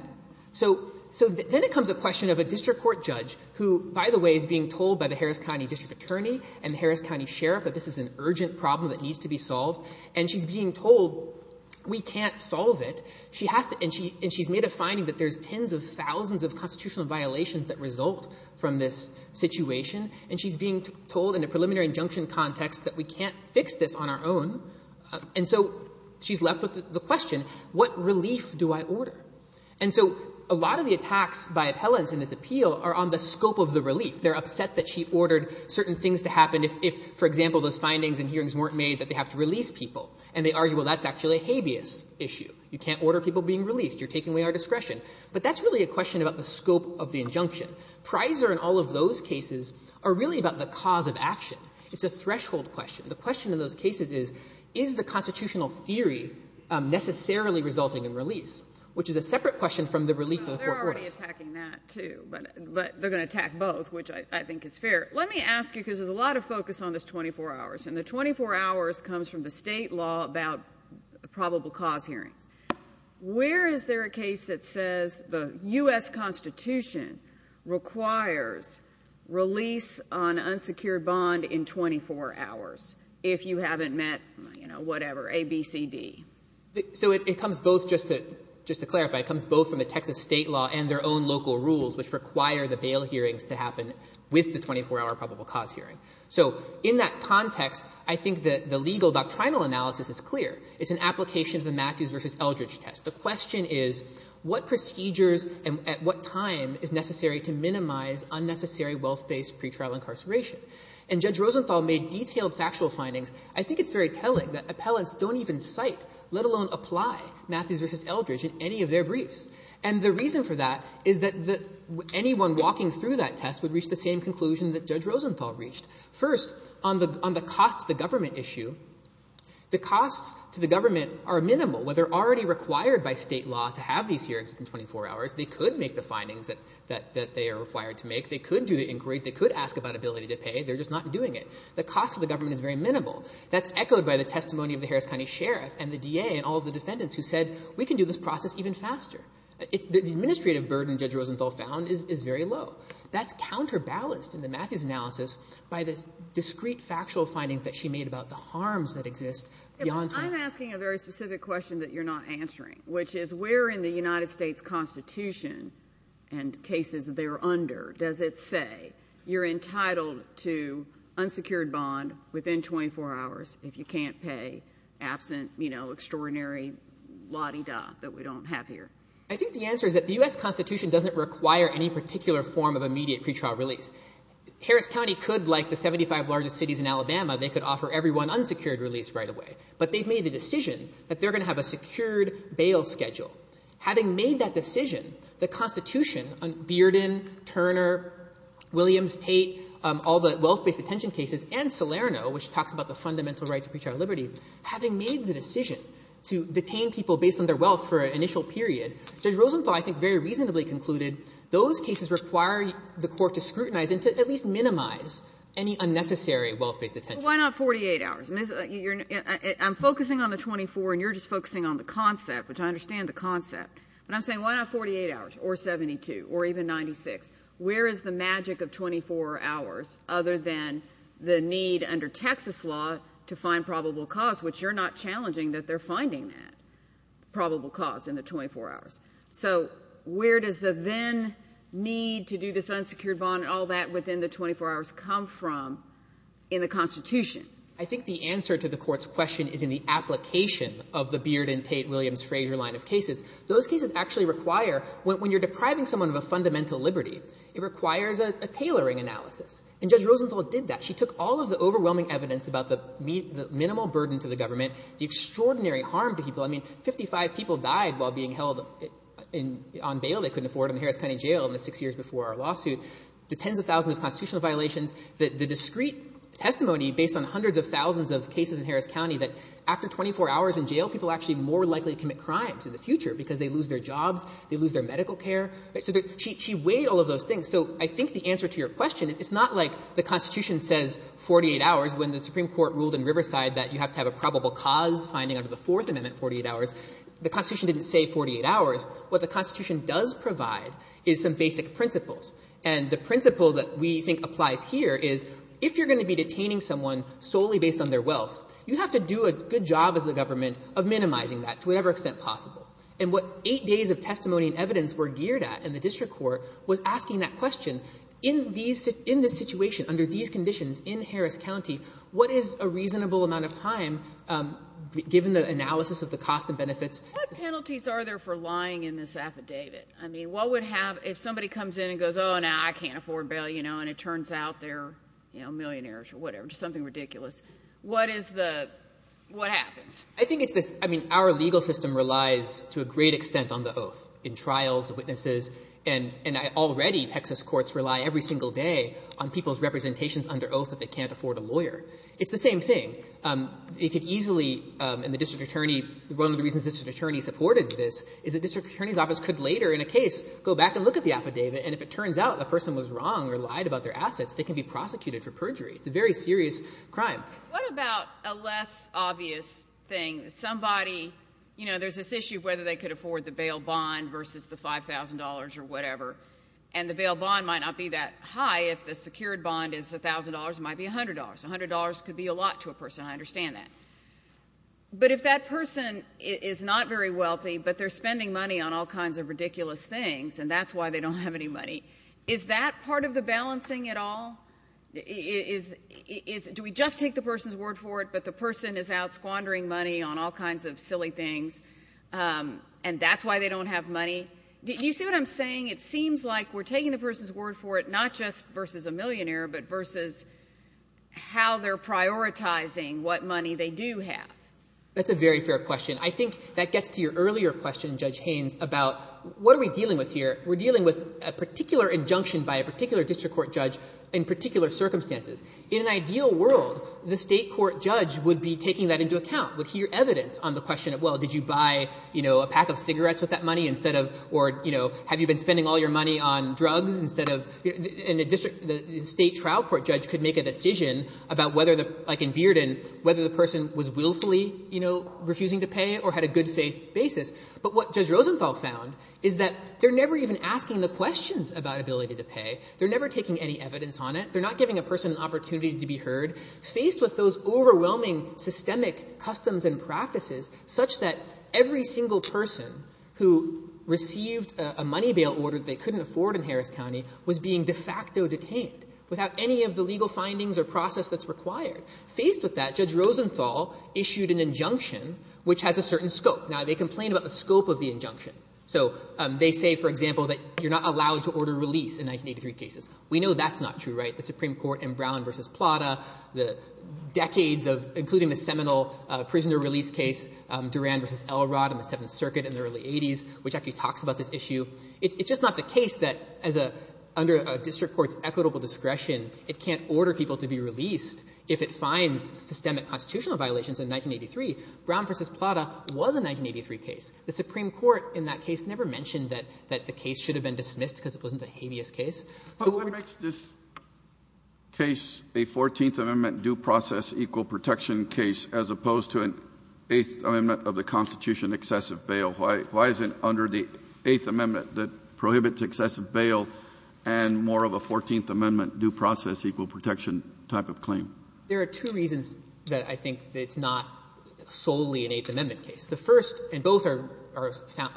So then it comes a question of a district court judge who, by the way, is being told by the Harris County district attorney and the Harris County sheriff that this is an urgent problem that needs to be solved. And she's being told we can't solve it. She has to, and she's made a finding that there's tens of thousands of constitutional violations that result from this situation. And she's being told in a preliminary injunction context that we can't fix this on our own. And so she's left with the question, what relief do I order? And so a lot of the attacks by appellants in this appeal are on the scope of the relief. They're upset that she ordered certain things to happen if, for example, those findings and hearings weren't made that they have to release people. And they argue, well, that's actually a habeas issue. You can't order people being released. You're taking away our discretion. But that's really a question about the scope of the injunction. Prizer and all of those cases are really about the cause of action. It's a threshold question. The question in those cases is, is the constitutional theory necessarily resulting in release, which is a separate question from the relief of the court orders. No, they're already attacking that, too. But they're going to attack both, which I think is fair. Let me ask you, because there's a lot of focus on this 24 hours, and the 24 hours comes from the state law about probable cause hearings. Where is there a case that says the U.S. Constitution requires release on unsecured bond in 24 hours, if you haven't met, you know, whatever, ABCD? So it comes both, just to clarify, it comes both from the Texas state law and their own local rules, which require the bail hearings to happen with the 24-hour probable cause hearing. So in that context, I think the legal doctrinal analysis is clear. It's an application of the Matthews v. Eldridge test. The question is, what procedures and at what time is necessary to minimize unnecessary wealth-based pretrial incarceration? And Judge Rosenthal made detailed factual findings. I think it's very telling that appellants don't even cite, let alone apply, Matthews v. Eldridge in any of their briefs. And the reason for that is that anyone walking through that test would reach the same conclusion that Judge Rosenthal reached. First, on the costs to the government issue, the costs to the government are minimal. While they're already required by state law to have these hearings within 24 hours, they could make the findings that they are required to make. They could do the inquiries. They could ask about ability to pay. They're just not doing it. The cost to the government is very minimal. That's echoed by the testimony of the Harris County Sheriff and the DA and all of the defendants who said, we can do this process even faster. The administrative burden Judge Rosenthal found is very low. That's counterbalanced in the Matthews analysis by the discrete factual findings that she made about the harms that exist beyond 24 hours. I'm asking a very specific question that you're not answering, which is where in the United States Constitution and cases they're under does it say you're entitled to unsecured bond within 24 hours if you can't pay absent, you know, extraordinary la-di-da that we don't have here? I think the answer is that the U.S. Constitution doesn't require any particular form of immediate pretrial release. Harris County could, like the 75 largest cities in Alabama, they could offer everyone unsecured release right away. But they've made the decision that they're going to have a secured bail schedule. Having made that decision, the Constitution, Bearden, Turner, Williams, Tate, all the wealth-based detention cases, and Salerno, which talks about the fundamental right to pretrial liberty, having made the decision to detain people based on their wealth for an initial period, Judge Rosenthal I think very reasonably concluded those cases require the Court to scrutinize and to at least minimize any unnecessary wealth-based detention. Why not 48 hours? I'm focusing on the 24, and you're just focusing on the concept, which I understand the concept. But I'm saying why not 48 hours or 72 or even 96? Where is the magic of 24 hours other than the need under Texas law to find probable cause, which you're not challenging that they're finding that probable cause in the 24 hours. So where does the then need to do this unsecured bond and all that within the 24 hours come from in the Constitution? I think the answer to the Court's question is in the application of the Beard and Tate-Williams-Fraser line of cases. Those cases actually require, when you're depriving someone of a fundamental liberty, it requires a tailoring analysis. And Judge Rosenthal did that. She took all of the overwhelming evidence about the minimal burden to the government, the extraordinary harm to people. I mean, 55 people died while being held on bail. They couldn't afford them in Harris County Jail in the six years before our lawsuit. The tens of thousands of constitutional violations, the discrete testimony based on hundreds of thousands of cases in Harris County that after 24 hours in jail, people are actually more likely to commit crimes in the future because they lose their jobs, they lose their medical care. She weighed all of those things. So I think the answer to your question, it's not like the Constitution says 48 hours when the Supreme Court ruled in Riverside that you have to have a probable cause finding under the Fourth Amendment 48 hours. The Constitution didn't say 48 hours. What the Constitution does provide is some basic principles. And the principle that we think applies here is if you're going to be detaining someone solely based on their wealth, you have to do a good job as a government of minimizing that to whatever extent possible. And what eight days of testimony and evidence were geared at in the district court was asking that question, in this situation, under these conditions, in Harris County, what is a reasonable amount of time given the analysis of the costs and benefits? What penalties are there for lying in this affidavit? I mean, what would happen if somebody comes in and goes, oh, no, I can't afford bail, you know, and it turns out they're, you know, millionaires or whatever, just something ridiculous. What is the, what happens? I think it's this, I mean, our legal system relies to a great extent on the oath in trials, witnesses, and already Texas courts rely every single day on people's representations under oath that they can't afford a lawyer. It's the same thing. It could easily, and the district attorney, one of the reasons the district attorney supported this is the district attorney's office could later in a case go back and look at the affidavit, and if it turns out the person was wrong or lied about their assets, they can be prosecuted for perjury. It's a very serious crime. What about a less obvious thing? Somebody, you know, there's this issue of whether they could afford the bail bond versus the $5,000 or whatever, and the bail bond might not be that high if the secured bond is $1,000. It might be $100. $100 could be a lot to a person. I understand that. But if that person is not very wealthy, but they're spending money on all kinds of ridiculous things, and that's why they don't have any money, is that part of the balancing at all? Do we just take the person's word for it, but the person is out squandering money on all kinds of silly things, and that's why they don't have money? Do you see what I'm saying? It seems like we're taking the person's word for it, not just versus a millionaire, but versus how they're prioritizing what money they do have. That's a very fair question. I think that gets to your earlier question, Judge Haynes, about what are we dealing with here? We're dealing with a particular injunction by a particular district court judge in particular circumstances. In an ideal world, the state court judge would be taking that into account, would hear evidence on the question of, well, did you buy a pack of cigarettes with that money, or have you been spending all your money on drugs? The state trial court judge could make a decision about whether, like in Bearden, whether the person was willfully refusing to pay or had a good faith basis. But what Judge Rosenthal found is that they're never even asking the questions about ability to pay. They're never taking any evidence on it. They're not giving a person an opportunity to be heard. Faced with those overwhelming systemic customs and practices such that every single person who received a money bail order that they couldn't afford in Harris County was being de facto detained without any of the legal findings or process that's required. Faced with that, Judge Rosenthal issued an injunction which has a certain scope. Now, they complain about the scope of the injunction. So they say, for example, that you're not allowed to order release in 1983 cases. We know that's not true, right? The Supreme Court in Brown v. Plata, the decades of, including the seminal prisoner release case, Duran v. Elrod in the Seventh Circuit in the early 80s, which actually talks about this issue. It's just not the case that under a district court's equitable discretion, it can't order people to be released if it finds systemic constitutional violations in 1983. Brown v. Plata was a 1983 case. The Supreme Court in that case never mentioned that the case should have been dismissed because it wasn't a habeas case. So we're going to go back to that. Kennedy. But what makes this case a Fourteenth Amendment due process equal protection case as opposed to an Eighth Amendment of the Constitution excessive bail? Why is it under the Eighth Amendment that prohibits excessive bail and more of a Fourteenth Amendment due process equal protection type of claim? There are two reasons that I think it's not solely an Eighth Amendment case. The first, and both are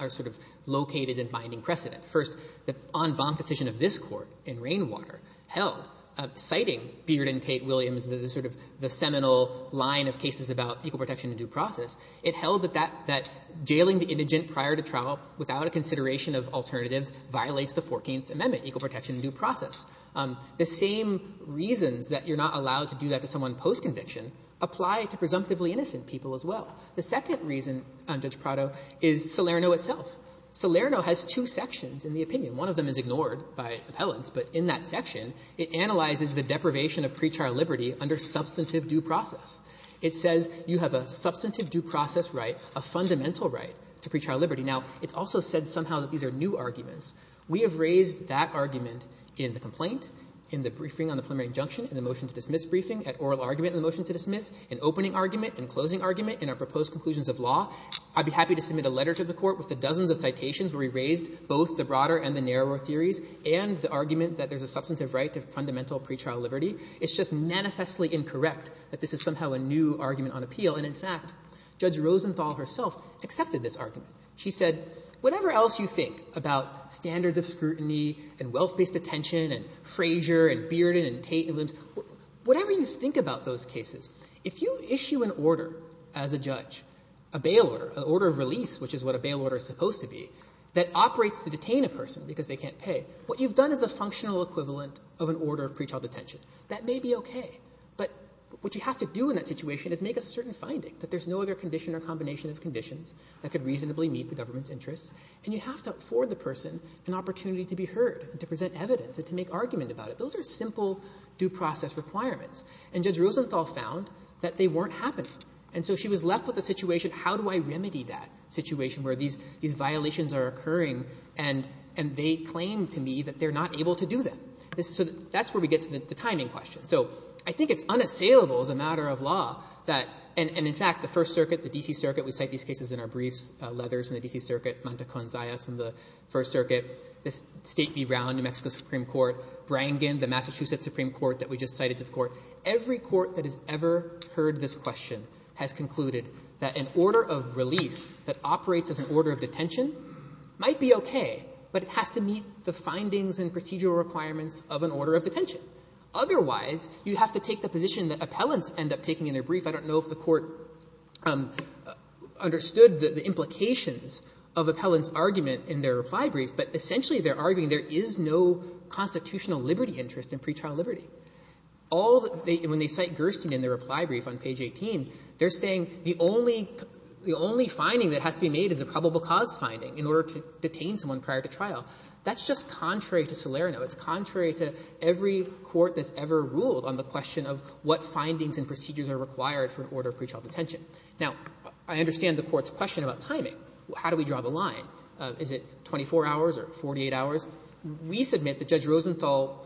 sort of located in binding precedent. First, the en banc decision of this Court in Rainwater held, citing Beard and Tate-Williams, the sort of seminal line of cases about equal protection in due process, it held that jailing the indigent prior to trial without a consideration of alternatives violates the Fourteenth Amendment, equal protection in due process. The same reasons that you're not allowed to do that to someone post-conviction apply to presumptively innocent people as well. The second reason, Judge Prado, is Salerno itself. Salerno has two sections in the opinion. One of them is ignored by appellants, but in that section, it analyzes the deprivation of pre-trial liberty under substantive due process. It says you have a substantive due process right, a fundamental right to pre-trial liberty. Now, it's also said somehow that these are new arguments. We have raised that argument in the complaint, in the briefing on the preliminary injunction, in the motion to dismiss briefing, at oral argument in the motion to dismiss, in opening argument, in closing argument, in our proposed conclusions of law. I'd be happy to submit a letter to the Court with the dozens of citations where we raised both the broader and the narrower theories and the argument that there's a substantive right to fundamental pre-trial liberty. It's just manifestly incorrect that this is somehow a new argument on appeal. And in fact, Judge Rosenthal herself accepted this argument. She said, whatever else you think about standards of scrutiny and wealth-based detention and Frazier and Bearden and Tate and Williams, whatever you think about those cases, if you issue an order as a judge, a bail order, an order of release, which is what a bail order is supposed to be, that operates to detain a person because they can't pay, what you've done is the functional equivalent of an order of pre-trial detention. That may be okay, but what you have to do in that situation is make a certain finding that there's no other condition or combination of conditions that could reasonably meet the government's interests, and you have to afford the person an opportunity to be heard and to present evidence and to make argument about it. Those are simple due process requirements. And Judge Rosenthal found that they weren't happening. And so she was left with the situation, how do I remedy that situation where these violations are occurring and they claim to me that they're not able to do them? So that's where we get to the timing question. So I think it's unassailable as a matter of law that, and in fact, the First Circuit, the D.C. Circuit, we cite these cases in our briefs, Leathers from the D.C. Circuit, Manta-Conzaes from the First Circuit, the State v. Brown, New Mexico Supreme Court, Brangen, the Massachusetts Supreme Court that we just cited to the Court. Every court that has ever heard this question has concluded that an order of release that operates as an order of detention might be okay, but it has to meet the findings and procedural requirements of an order of detention. Otherwise, you have to take the position that appellants end up taking in their brief. I don't know if the Court understood the implications of appellants' argument in their reply brief, but essentially they're arguing there is no constitutional liberty interest in pretrial liberty. All the — when they cite Gerstein in their reply brief on page 18, they're saying the only finding that has to be made is a probable cause finding in order to detain someone prior to trial. That's just contrary to Salerno. It's contrary to every court that's ever ruled on the question of what findings and procedures are required for an order of pretrial detention. Now, I understand the Court's question about timing. How do we draw the line? Is it 24 hours or 48 hours? We submit that Judge Rosenthal,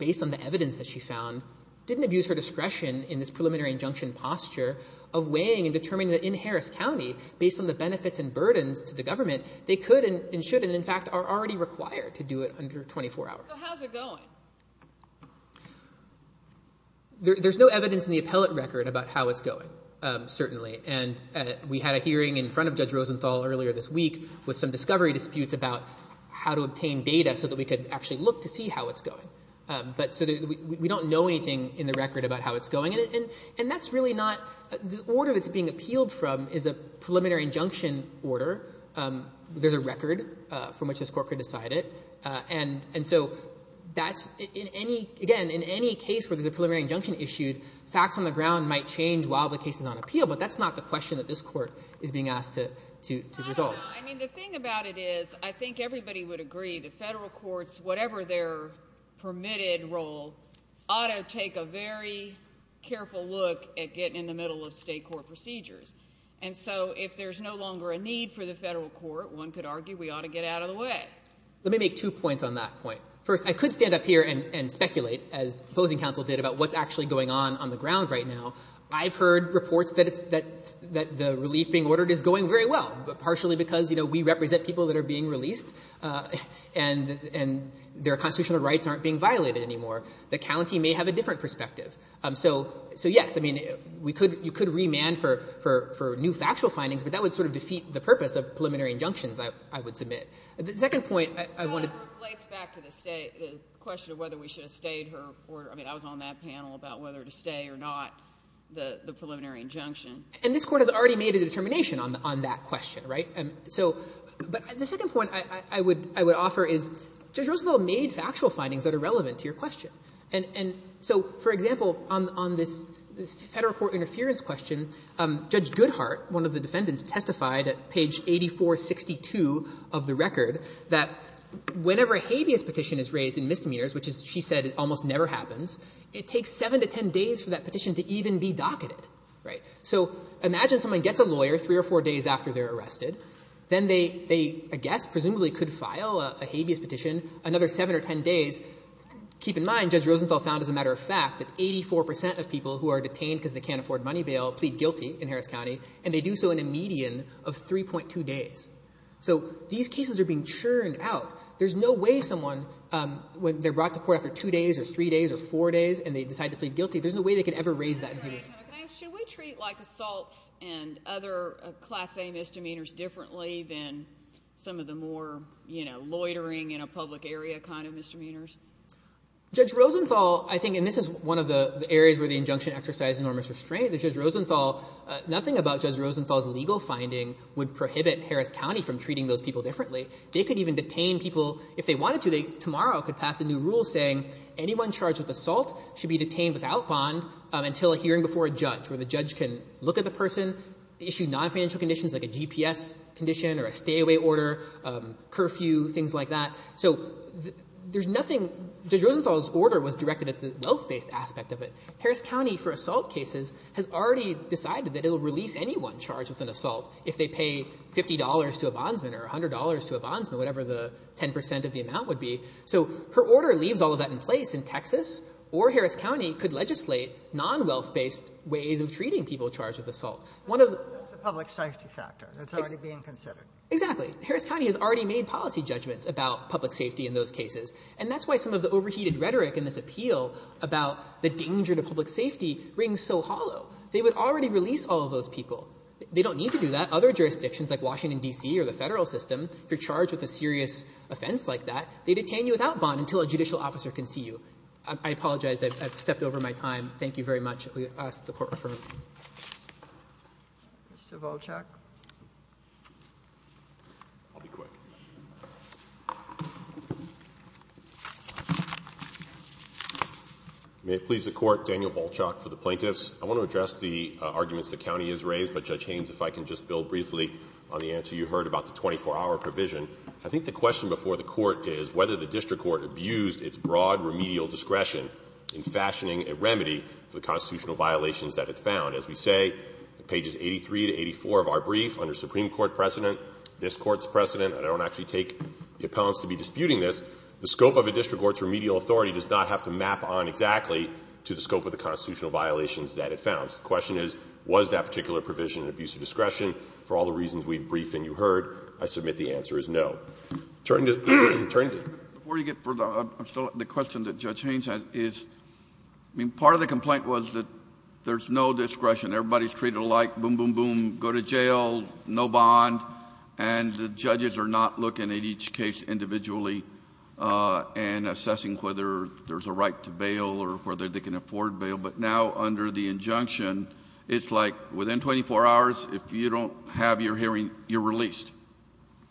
based on the evidence that she found, didn't abuse her discretion in this preliminary injunction posture of weighing and determining that in Harris County, based on the benefits and burdens to the government, they could and should, and in fact, are already required to do it under 24 hours. So how's it going? There's no evidence in the appellate record about how it's going, certainly. And we had a hearing in front of Judge Rosenthal earlier this week with some discovery disputes about how to obtain data so that we could actually look to see how it's going. But so we don't know anything in the record about how it's going. And that's really not... The order it's being appealed from is a preliminary injunction order. There's a record from which this Court could decide it. And so that's... Again, in any case where there's a preliminary injunction issued, facts on the ground might change while the case is on appeal, but that's not the question that this Court is being asked to resolve. I mean, the thing about it is I think everybody would agree the federal courts, whatever their permitted role, ought to take a very careful look at getting in the middle of state court procedures. And so if there's no longer a need for the federal court, one could argue we ought to get out of the way. Let me make two points on that point. First, I could stand up here and speculate, as opposing counsel did, about what's actually going on on the ground right now. I've heard reports that the relief being ordered is going very well, partially because, you know, we represent people that are being released and their constitutional rights aren't being violated anymore. The county may have a different perspective. So, yes, I mean, you could remand for new factual findings, but that would sort of defeat the purpose of preliminary injunctions, I would submit. The second point I want to... But that relates back to the question of whether we should have stayed her order. I mean, I was on that panel about whether to stay or not the preliminary injunction. And this Court has already made a determination on that question, right? So... But the second point I would offer is, Judge Roosevelt made factual findings that are relevant to your question. And so, for example, on this federal court interference question, Judge Goodhart, one of the defendants, testified at page 8462 of the record that whenever a habeas petition is raised in misdemeanors, which, as she said, almost never happens, it takes 7 to 10 days for that petition to even be docketed. So imagine someone gets a lawyer three or four days after they're arrested. Then they, I guess, presumably could file a habeas petition another 7 or 10 days. Keep in mind, Judge Roosevelt found, as a matter of fact, that 84% of people who are detained because they can't afford money bail plead guilty in Harris County, and they do so in a median of 3.2 days. So these cases are being churned out. There's no way someone, when they're brought to court after two days or three days or four days, and they decide to plead guilty, there's no way they could ever raise that abuse. Can I ask, should we treat, like, assaults and other class-A misdemeanors differently than some of the more, you know, loitering in a public area kind of misdemeanors? Judge Rosenthal, I think, and this is one of the areas where the injunction exercised enormous restraint, that Judge Rosenthal, nothing about Judge Rosenthal's legal finding would prohibit Harris County from treating those people differently. They could even detain people if they wanted to. Tomorrow could pass a new rule saying anyone charged with assault should be detained without bond until a hearing before a judge, where the judge can look at the person, issue non-financial conditions like a GPS condition or a stay-away order, curfew, things like that. So there's nothing... Judge Rosenthal's order was directed at the wealth-based aspect of it. Harris County, for assault cases, has already decided that it'll release anyone charged with an assault if they pay $50 to a bondsman or $100 to a bondsman, whatever the 10% of the amount would be. So her order leaves all of that in place in Texas or Harris County could legislate non-wealth-based ways of treating people charged with assault. One of the... That's the public safety factor that's already being considered. Exactly. Harris County has already made policy judgments about public safety in those cases, and that's why some of the overheated rhetoric in this appeal about the danger to public safety rings so hollow. They would already release all of those people. They don't need to do that. Other jurisdictions like Washington, D.C., or the Federal system, if you're charged with a serious offense like that, they detain you without bond until a judicial officer can see you. I apologize. I've stepped over my time. Thank you very much. We ask that the Court refer you. Mr. Volchak. I'll be quick. May it please the Court, Daniel Volchak for the Plaintiffs. I want to address the arguments the County has raised, but Judge Haynes, if I can just build briefly on the answer you heard about the 24-hour provision. I think the question before the Court is whether the District Court abused its broad remedial discretion in fashioning a remedy for the constitutional violations that it found. As we say, pages 83 to 84 of our brief, under Supreme Court precedent, this Court's precedent, and I don't actually take the appellants to be disputing this, the scope of a District Court's remedial authority does not have to map on exactly to the scope of the constitutional violations that it found. So the question is, was that particular provision an abuse of discretion? For all the reasons we've briefed and you heard, I submit the answer is no. Turning to the Attorney General. Before you get further, the question that Judge Haynes had is, part of the complaint was that there's no discretion. Everybody's treated like, boom, boom, boom, go to jail, no bond, and the judges are not looking at each case individually and assessing whether there's a right to bail or whether they can afford bail, but now under the injunction, it's like within 24 hours, if you don't have your hearing, you're released.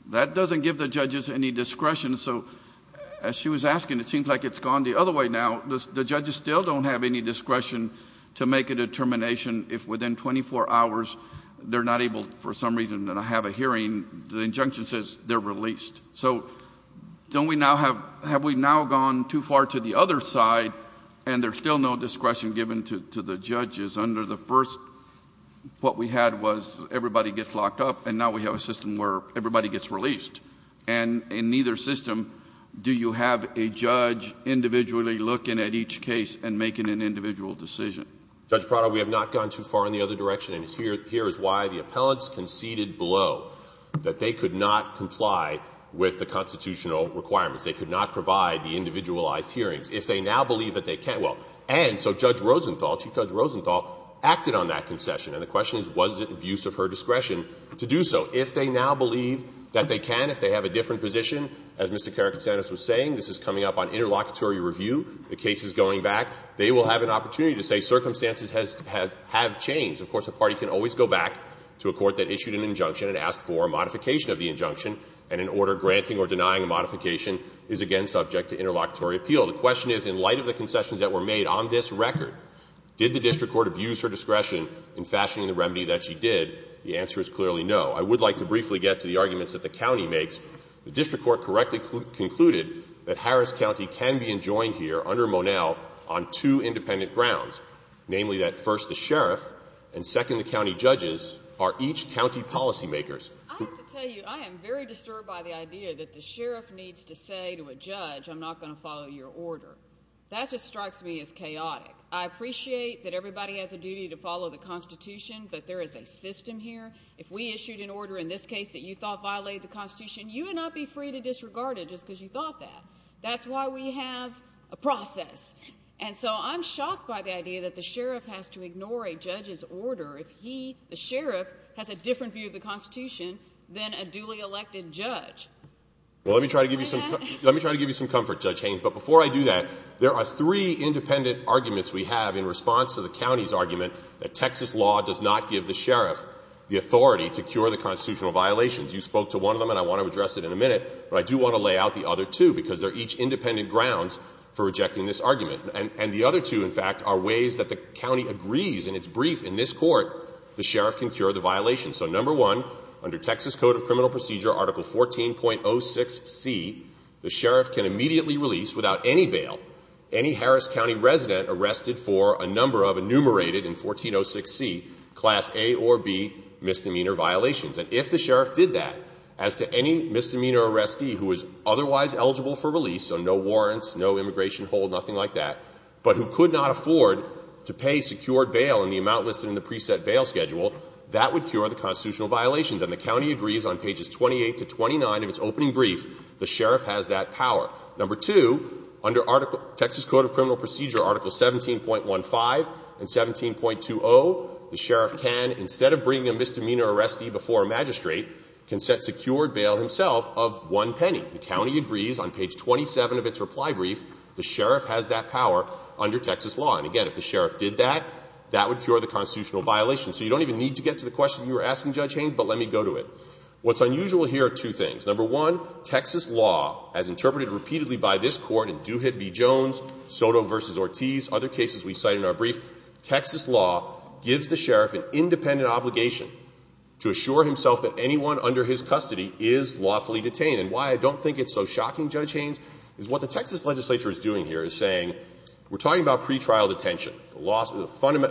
That doesn't give the judges any discretion, so as she was asking, it seems like it's gone the other way now. The judges still don't have any discretion to make a determination if within 24 hours, they're not able, for some reason, to have a hearing. The injunction says they're released. So, don't we now have, have we now gone too far to the other side and there's still no discretion given to the judges under the first, what we had was everybody gets locked up and now we have a system where everybody gets released and in neither system do you have a judge individually looking at each case and making an individual decision. Judge Prado, we have not gone too far in the other direction and here is why the appellants conceded below that they could not comply with the constitutional requirements. They could not provide the individualized hearings. If they now believe that they can, well, and so Judge Rosenthal, Chief Judge Rosenthal acted on that concession and the question is, was it abuse of her discretion to do so? If they now believe that they can, if they have a different position, as Mr. Karakatsanis was saying, this is coming up on interlocutory review, the case is going back, they will have an opportunity to say circumstances have changed. Of course, a party can always go back to a court that issued an injunction and asked for a modification of the injunction and an order granting or denying a modification is again subject to interlocutory appeal. The question is, in light of the concessions that were made on this record, did the district court abuse her discretion in fashioning the remedy that she did? The answer is clearly no. I would like to briefly get to the arguments that the county makes. The district court correctly concluded that Harris County can be enjoined here under Monell on two independent grounds, namely that first, the sheriff and second, the county judges are each county policymakers. I have to tell you, I am very disturbed by the idea that the sheriff needs to say to a judge, I'm not going to follow your order. That just strikes me as chaotic. I appreciate that everybody has a duty to follow the Constitution, but there is a system here. If we issued an order in this case that you thought violated the Constitution, you would not be free to disregard it just because you thought that. That's why we have a process. And so I'm shocked by the idea that the sheriff has to ignore a judge's order if he, the sheriff, has a different view of the Constitution than a duly elected judge. Well, let me try to give you some comfort, Judge Haynes, but before I do that, there are three independent arguments we have in response to the county's argument that Texas law does not give the sheriff the authority to cure the constitutional violations. You spoke to one of them and I want to address it in a minute, but I do want to lay out the other two because they're each independent grounds for rejecting this argument. And the other two, in fact, are ways that the county agrees in its brief in this Court the sheriff can cure the violations. So number one, under Texas Code of Criminal Procedure, Article 14.06c, the sheriff can immediately release, without any bail, any Harris County resident arrested for a number of enumerated in 14.06c Class A or B misdemeanor violations. And if the sheriff did that, as to any misdemeanor arrestee who is otherwise eligible for release, so no warrants, no immigration hold, nothing like that, but who could not afford to pay secured bail in the amount listed in the preset bail schedule, that would cure the constitutional violations. And the county agrees on pages 28 to 29 of its opening brief, the sheriff has that power. Number two, under Texas Code of Criminal Procedure, Article 17.15 and 17.20, the sheriff can, instead of bringing a misdemeanor arrestee before a magistrate, can set secured bail himself of one penny. The county agrees on page 27 of its reply brief, the sheriff has that power under Texas law. And again, if the sheriff did that, that would cure the constitutional violations. So you don't even need to get to the question you were asking, Judge Haynes, but let me go to it. What's unusual here are two things. Number one, Texas law, as interpreted repeatedly by this Court in Duhigg v. Jones, Soto v. Ortiz, other cases we cite in our brief, Texas law gives the sheriff an independent obligation to assure himself that anyone under his custody is lawfully detained. And why I don't think it's so shocking, Judge Haynes, is what the Texas legislature is doing here is saying, we're talking about pretrial detention.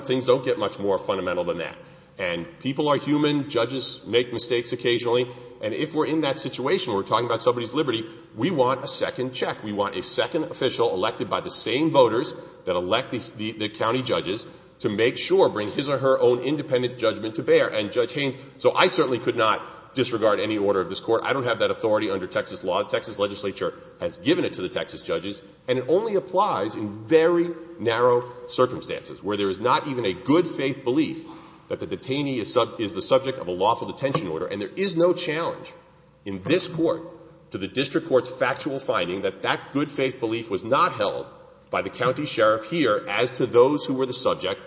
Things don't get much more fundamental than that. And people are human, judges make mistakes occasionally, and if we're in that situation, we're talking about somebody's liberty, we want a second check. We want a second official elected by the same voters that elect the county judges to make sure, bring his or her own independent judgment to bear. And Judge Haynes, so I certainly could not disregard any order of this Court, I don't have that authority under Texas law. The Texas legislature has given it to the Texas judges and it only applies in very narrow circumstances where there is not even a good faith belief that the detainee is the subject of a lawful detention order. And there is no challenge in this Court to the district court's factual finding that that good faith belief was not held by the county judges or the county sheriff here as to those who were the subject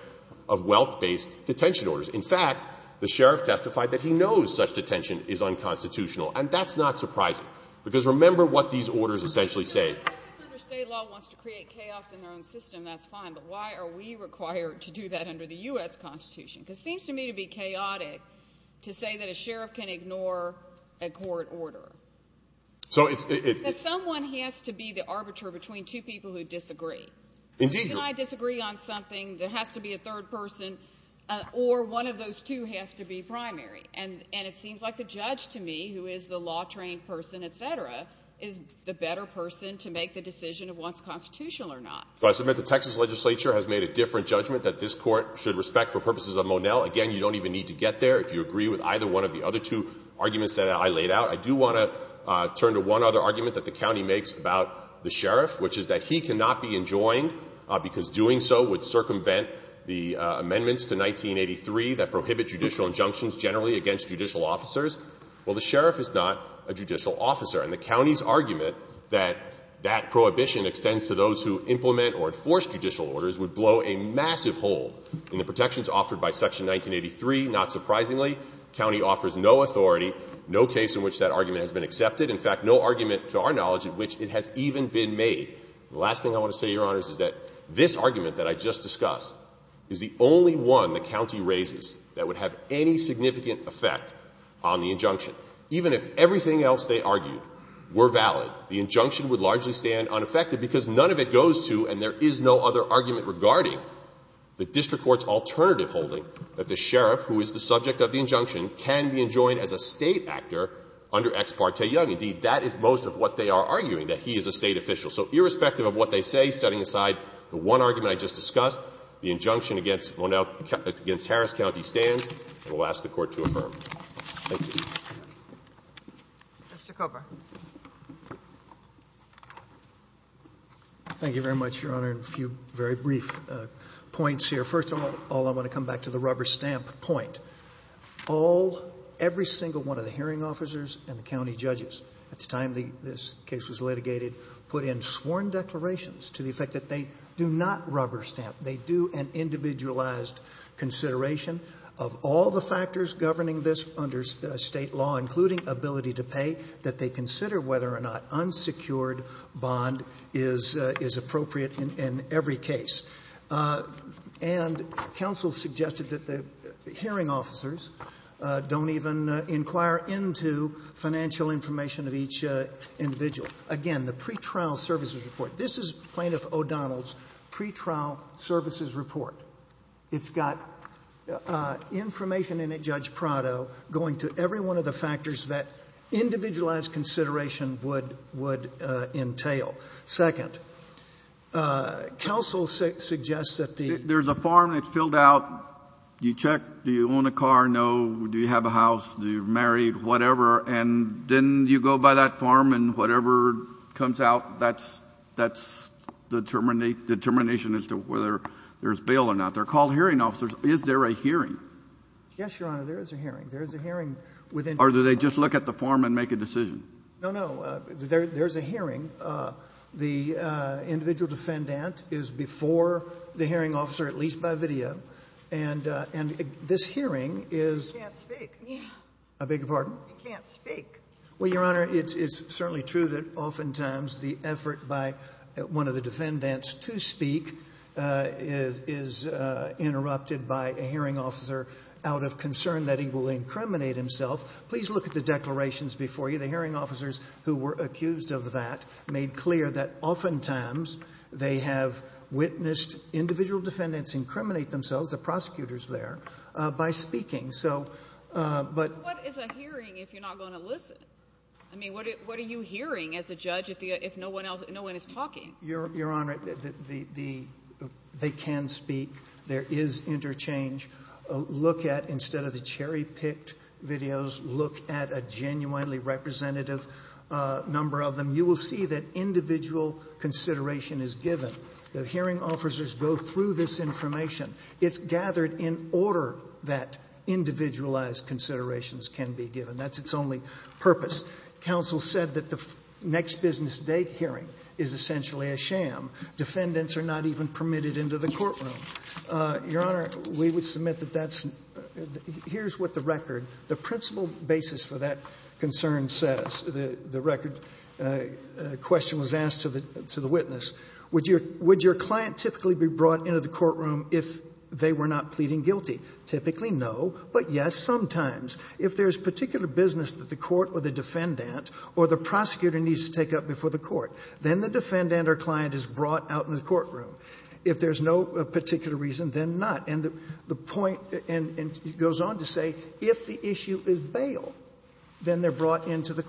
of wealth-based detention orders. In fact, the sheriff testified that he knows such detention is unconstitutional. And that's not surprising because remember what these orders essentially say. If the state law wants to create chaos in their own system, that's fine, but why are we required to do that under the U.S. Constitution? Because it seems to me to be chaotic to say that a sheriff can ignore a court order. Someone has to be the arbiter between two people who disagree. Can I disagree on something that has to be a third person or one of those two has to be primary? And it seems like the judge to me who is the law-trained person, et cetera, is the better person to make the decision of what's constitutional or not. So I submit the Texas legislature has made a different judgment that this Court should respect for purposes of Monell. Again, you don't even need to get there if you agree with either one of the other two arguments that I laid out. I do want to turn to one other argument that the county makes about the sheriff, which is that he cannot be enjoined because doing so would circumvent the amendments to 1983 that prohibit judicial injunctions generally against judicial officers. Well, the sheriff is not a judicial officer, and the county's argument that that prohibition extends to those who implement or enforce judicial orders would blow a massive hole in the protections offered by Section 1983. Not surprisingly, the county offers no authority, no case in which that argument has been accepted. In fact, no argument, to our knowledge, in which it has even been made. The last thing I want to say, Your Honors, is that this argument that I just discussed is the only one the county raises that would have any significant effect on the injunction. Even if everything else they argued were valid, the injunction would largely stand unaffected because none of it goes to, and there is no other argument regarding the district court's alternative holding, that the sheriff, who is the subject of the injunction, can be enjoined as a state actor under Ex Parte Young. Indeed, that is most of what they are arguing, that he is a state official. So irrespective of what they say, setting aside the one argument I just discussed, the injunction against Harris County stands and will ask the Court to affirm. Thank you. Mr. Cooper. Thank you very much, Your Honor. A few very brief points here. First of all, I want to come back to the rubber stamp point. Every single one of the hearing officers and the county judges at the time this case was litigated put in sworn declarations to the effect that they do not rubber stamp. They do an individualized consideration of all the factors governing this under state law, including ability to pay, that they consider whether or not unsecured bond is appropriate in every case. And counsel suggested that the hearing officers don't even inquire into financial information of each individual. Again, the pretrial services report. This is plaintiff O'Donnell's pretrial services report. It's got information in it, Judge Prado, going to every one of the factors that individualized consideration would entail. Second, counsel suggests that the ‑‑ there's a farm that's filled out, you check, do you own a car, no, do you have a house, do you marry, whatever, and then you go by that farm and whatever comes out, that's the determination as to whether there's bail or not. They're called hearing officers. And this hearing is ‑‑ You can't speak. It's certainly true that oftentimes the effort by one of the defendants to speak is interrupted by a hearing officer out of concern that he will incriminate himself. The hearing officers who were accused of that made clear that oftentimes they have witnessed individual defendants incriminate themselves by speaking. What is a hearing if you're not going to listen? What are you hearing as a judge if no one is talking? Your Honor, they can look at a number of them. You will see that consideration is given. The hearing officers go through this information. It's gathered in order that individualized considerations can be given. That's its only purpose. Counsel said the next business hearing is a sham. Defendants are not permitted into the courtroom. Your Honor, here's what the record says. The question was asked to the witness. Would your client typically be brought into the courtroom if they were not pleading guilty? Typically no, but yes sometimes. If there's particular business that the court or the defendant or the prosecutor needs to take up before the court, then the defendant or client is brought out into the courtroom. If there's no particular reason, then not. And it goes on to say if the issue is bail, then they're brought into the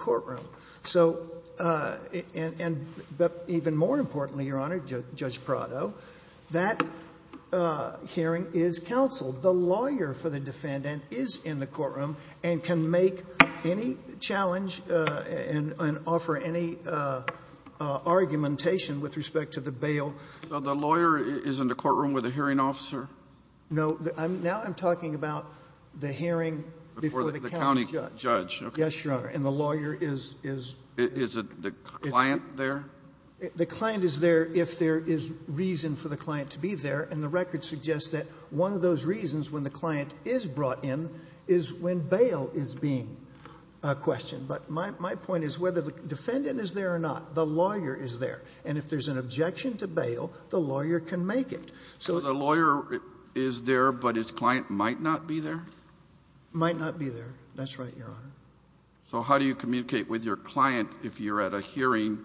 So, and even more importantly, Your Honor, Judge Prado, that hearing is counseled. The lawyer for the defendant is in the courtroom and can make any challenge and offer any argumentation with respect to the bail. The lawyer is in the challenge with respect to the bail. The lawyer is in the courtroom and can offer any argumentation with respect to the bail. The lawyer is in the courtroom and can make any challenge with respect to the bail. Is the client there? Might not be there. That's right, Your Honor. So how do you communicate with your client if you're at a hearing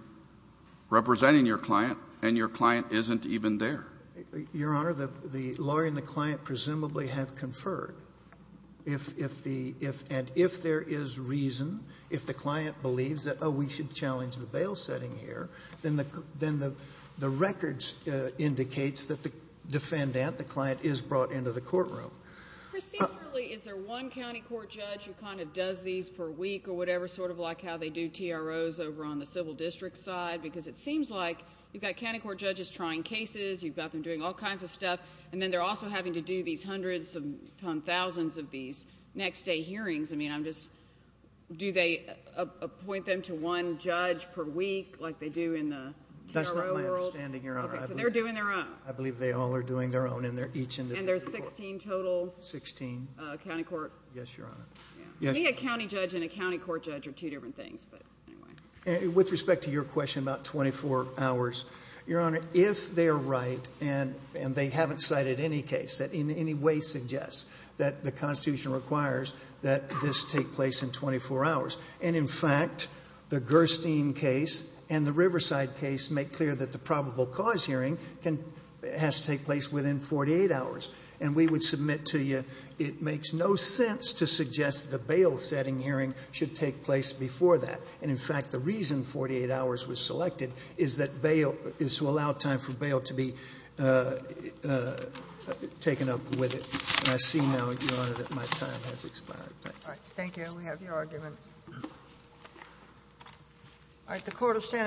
representing your client and your client isn't even there? Your Honor, the lawyer and the lawyer are don't think there. They are not there. So I don't think they're there. I don't think they're there. And don't think they're there. I don't think they're there. They are not there. So I don't think that the hearing should take place before that. And in fact the reason 48 hours was selected is that bail is to allow time to be taken up with it.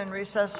And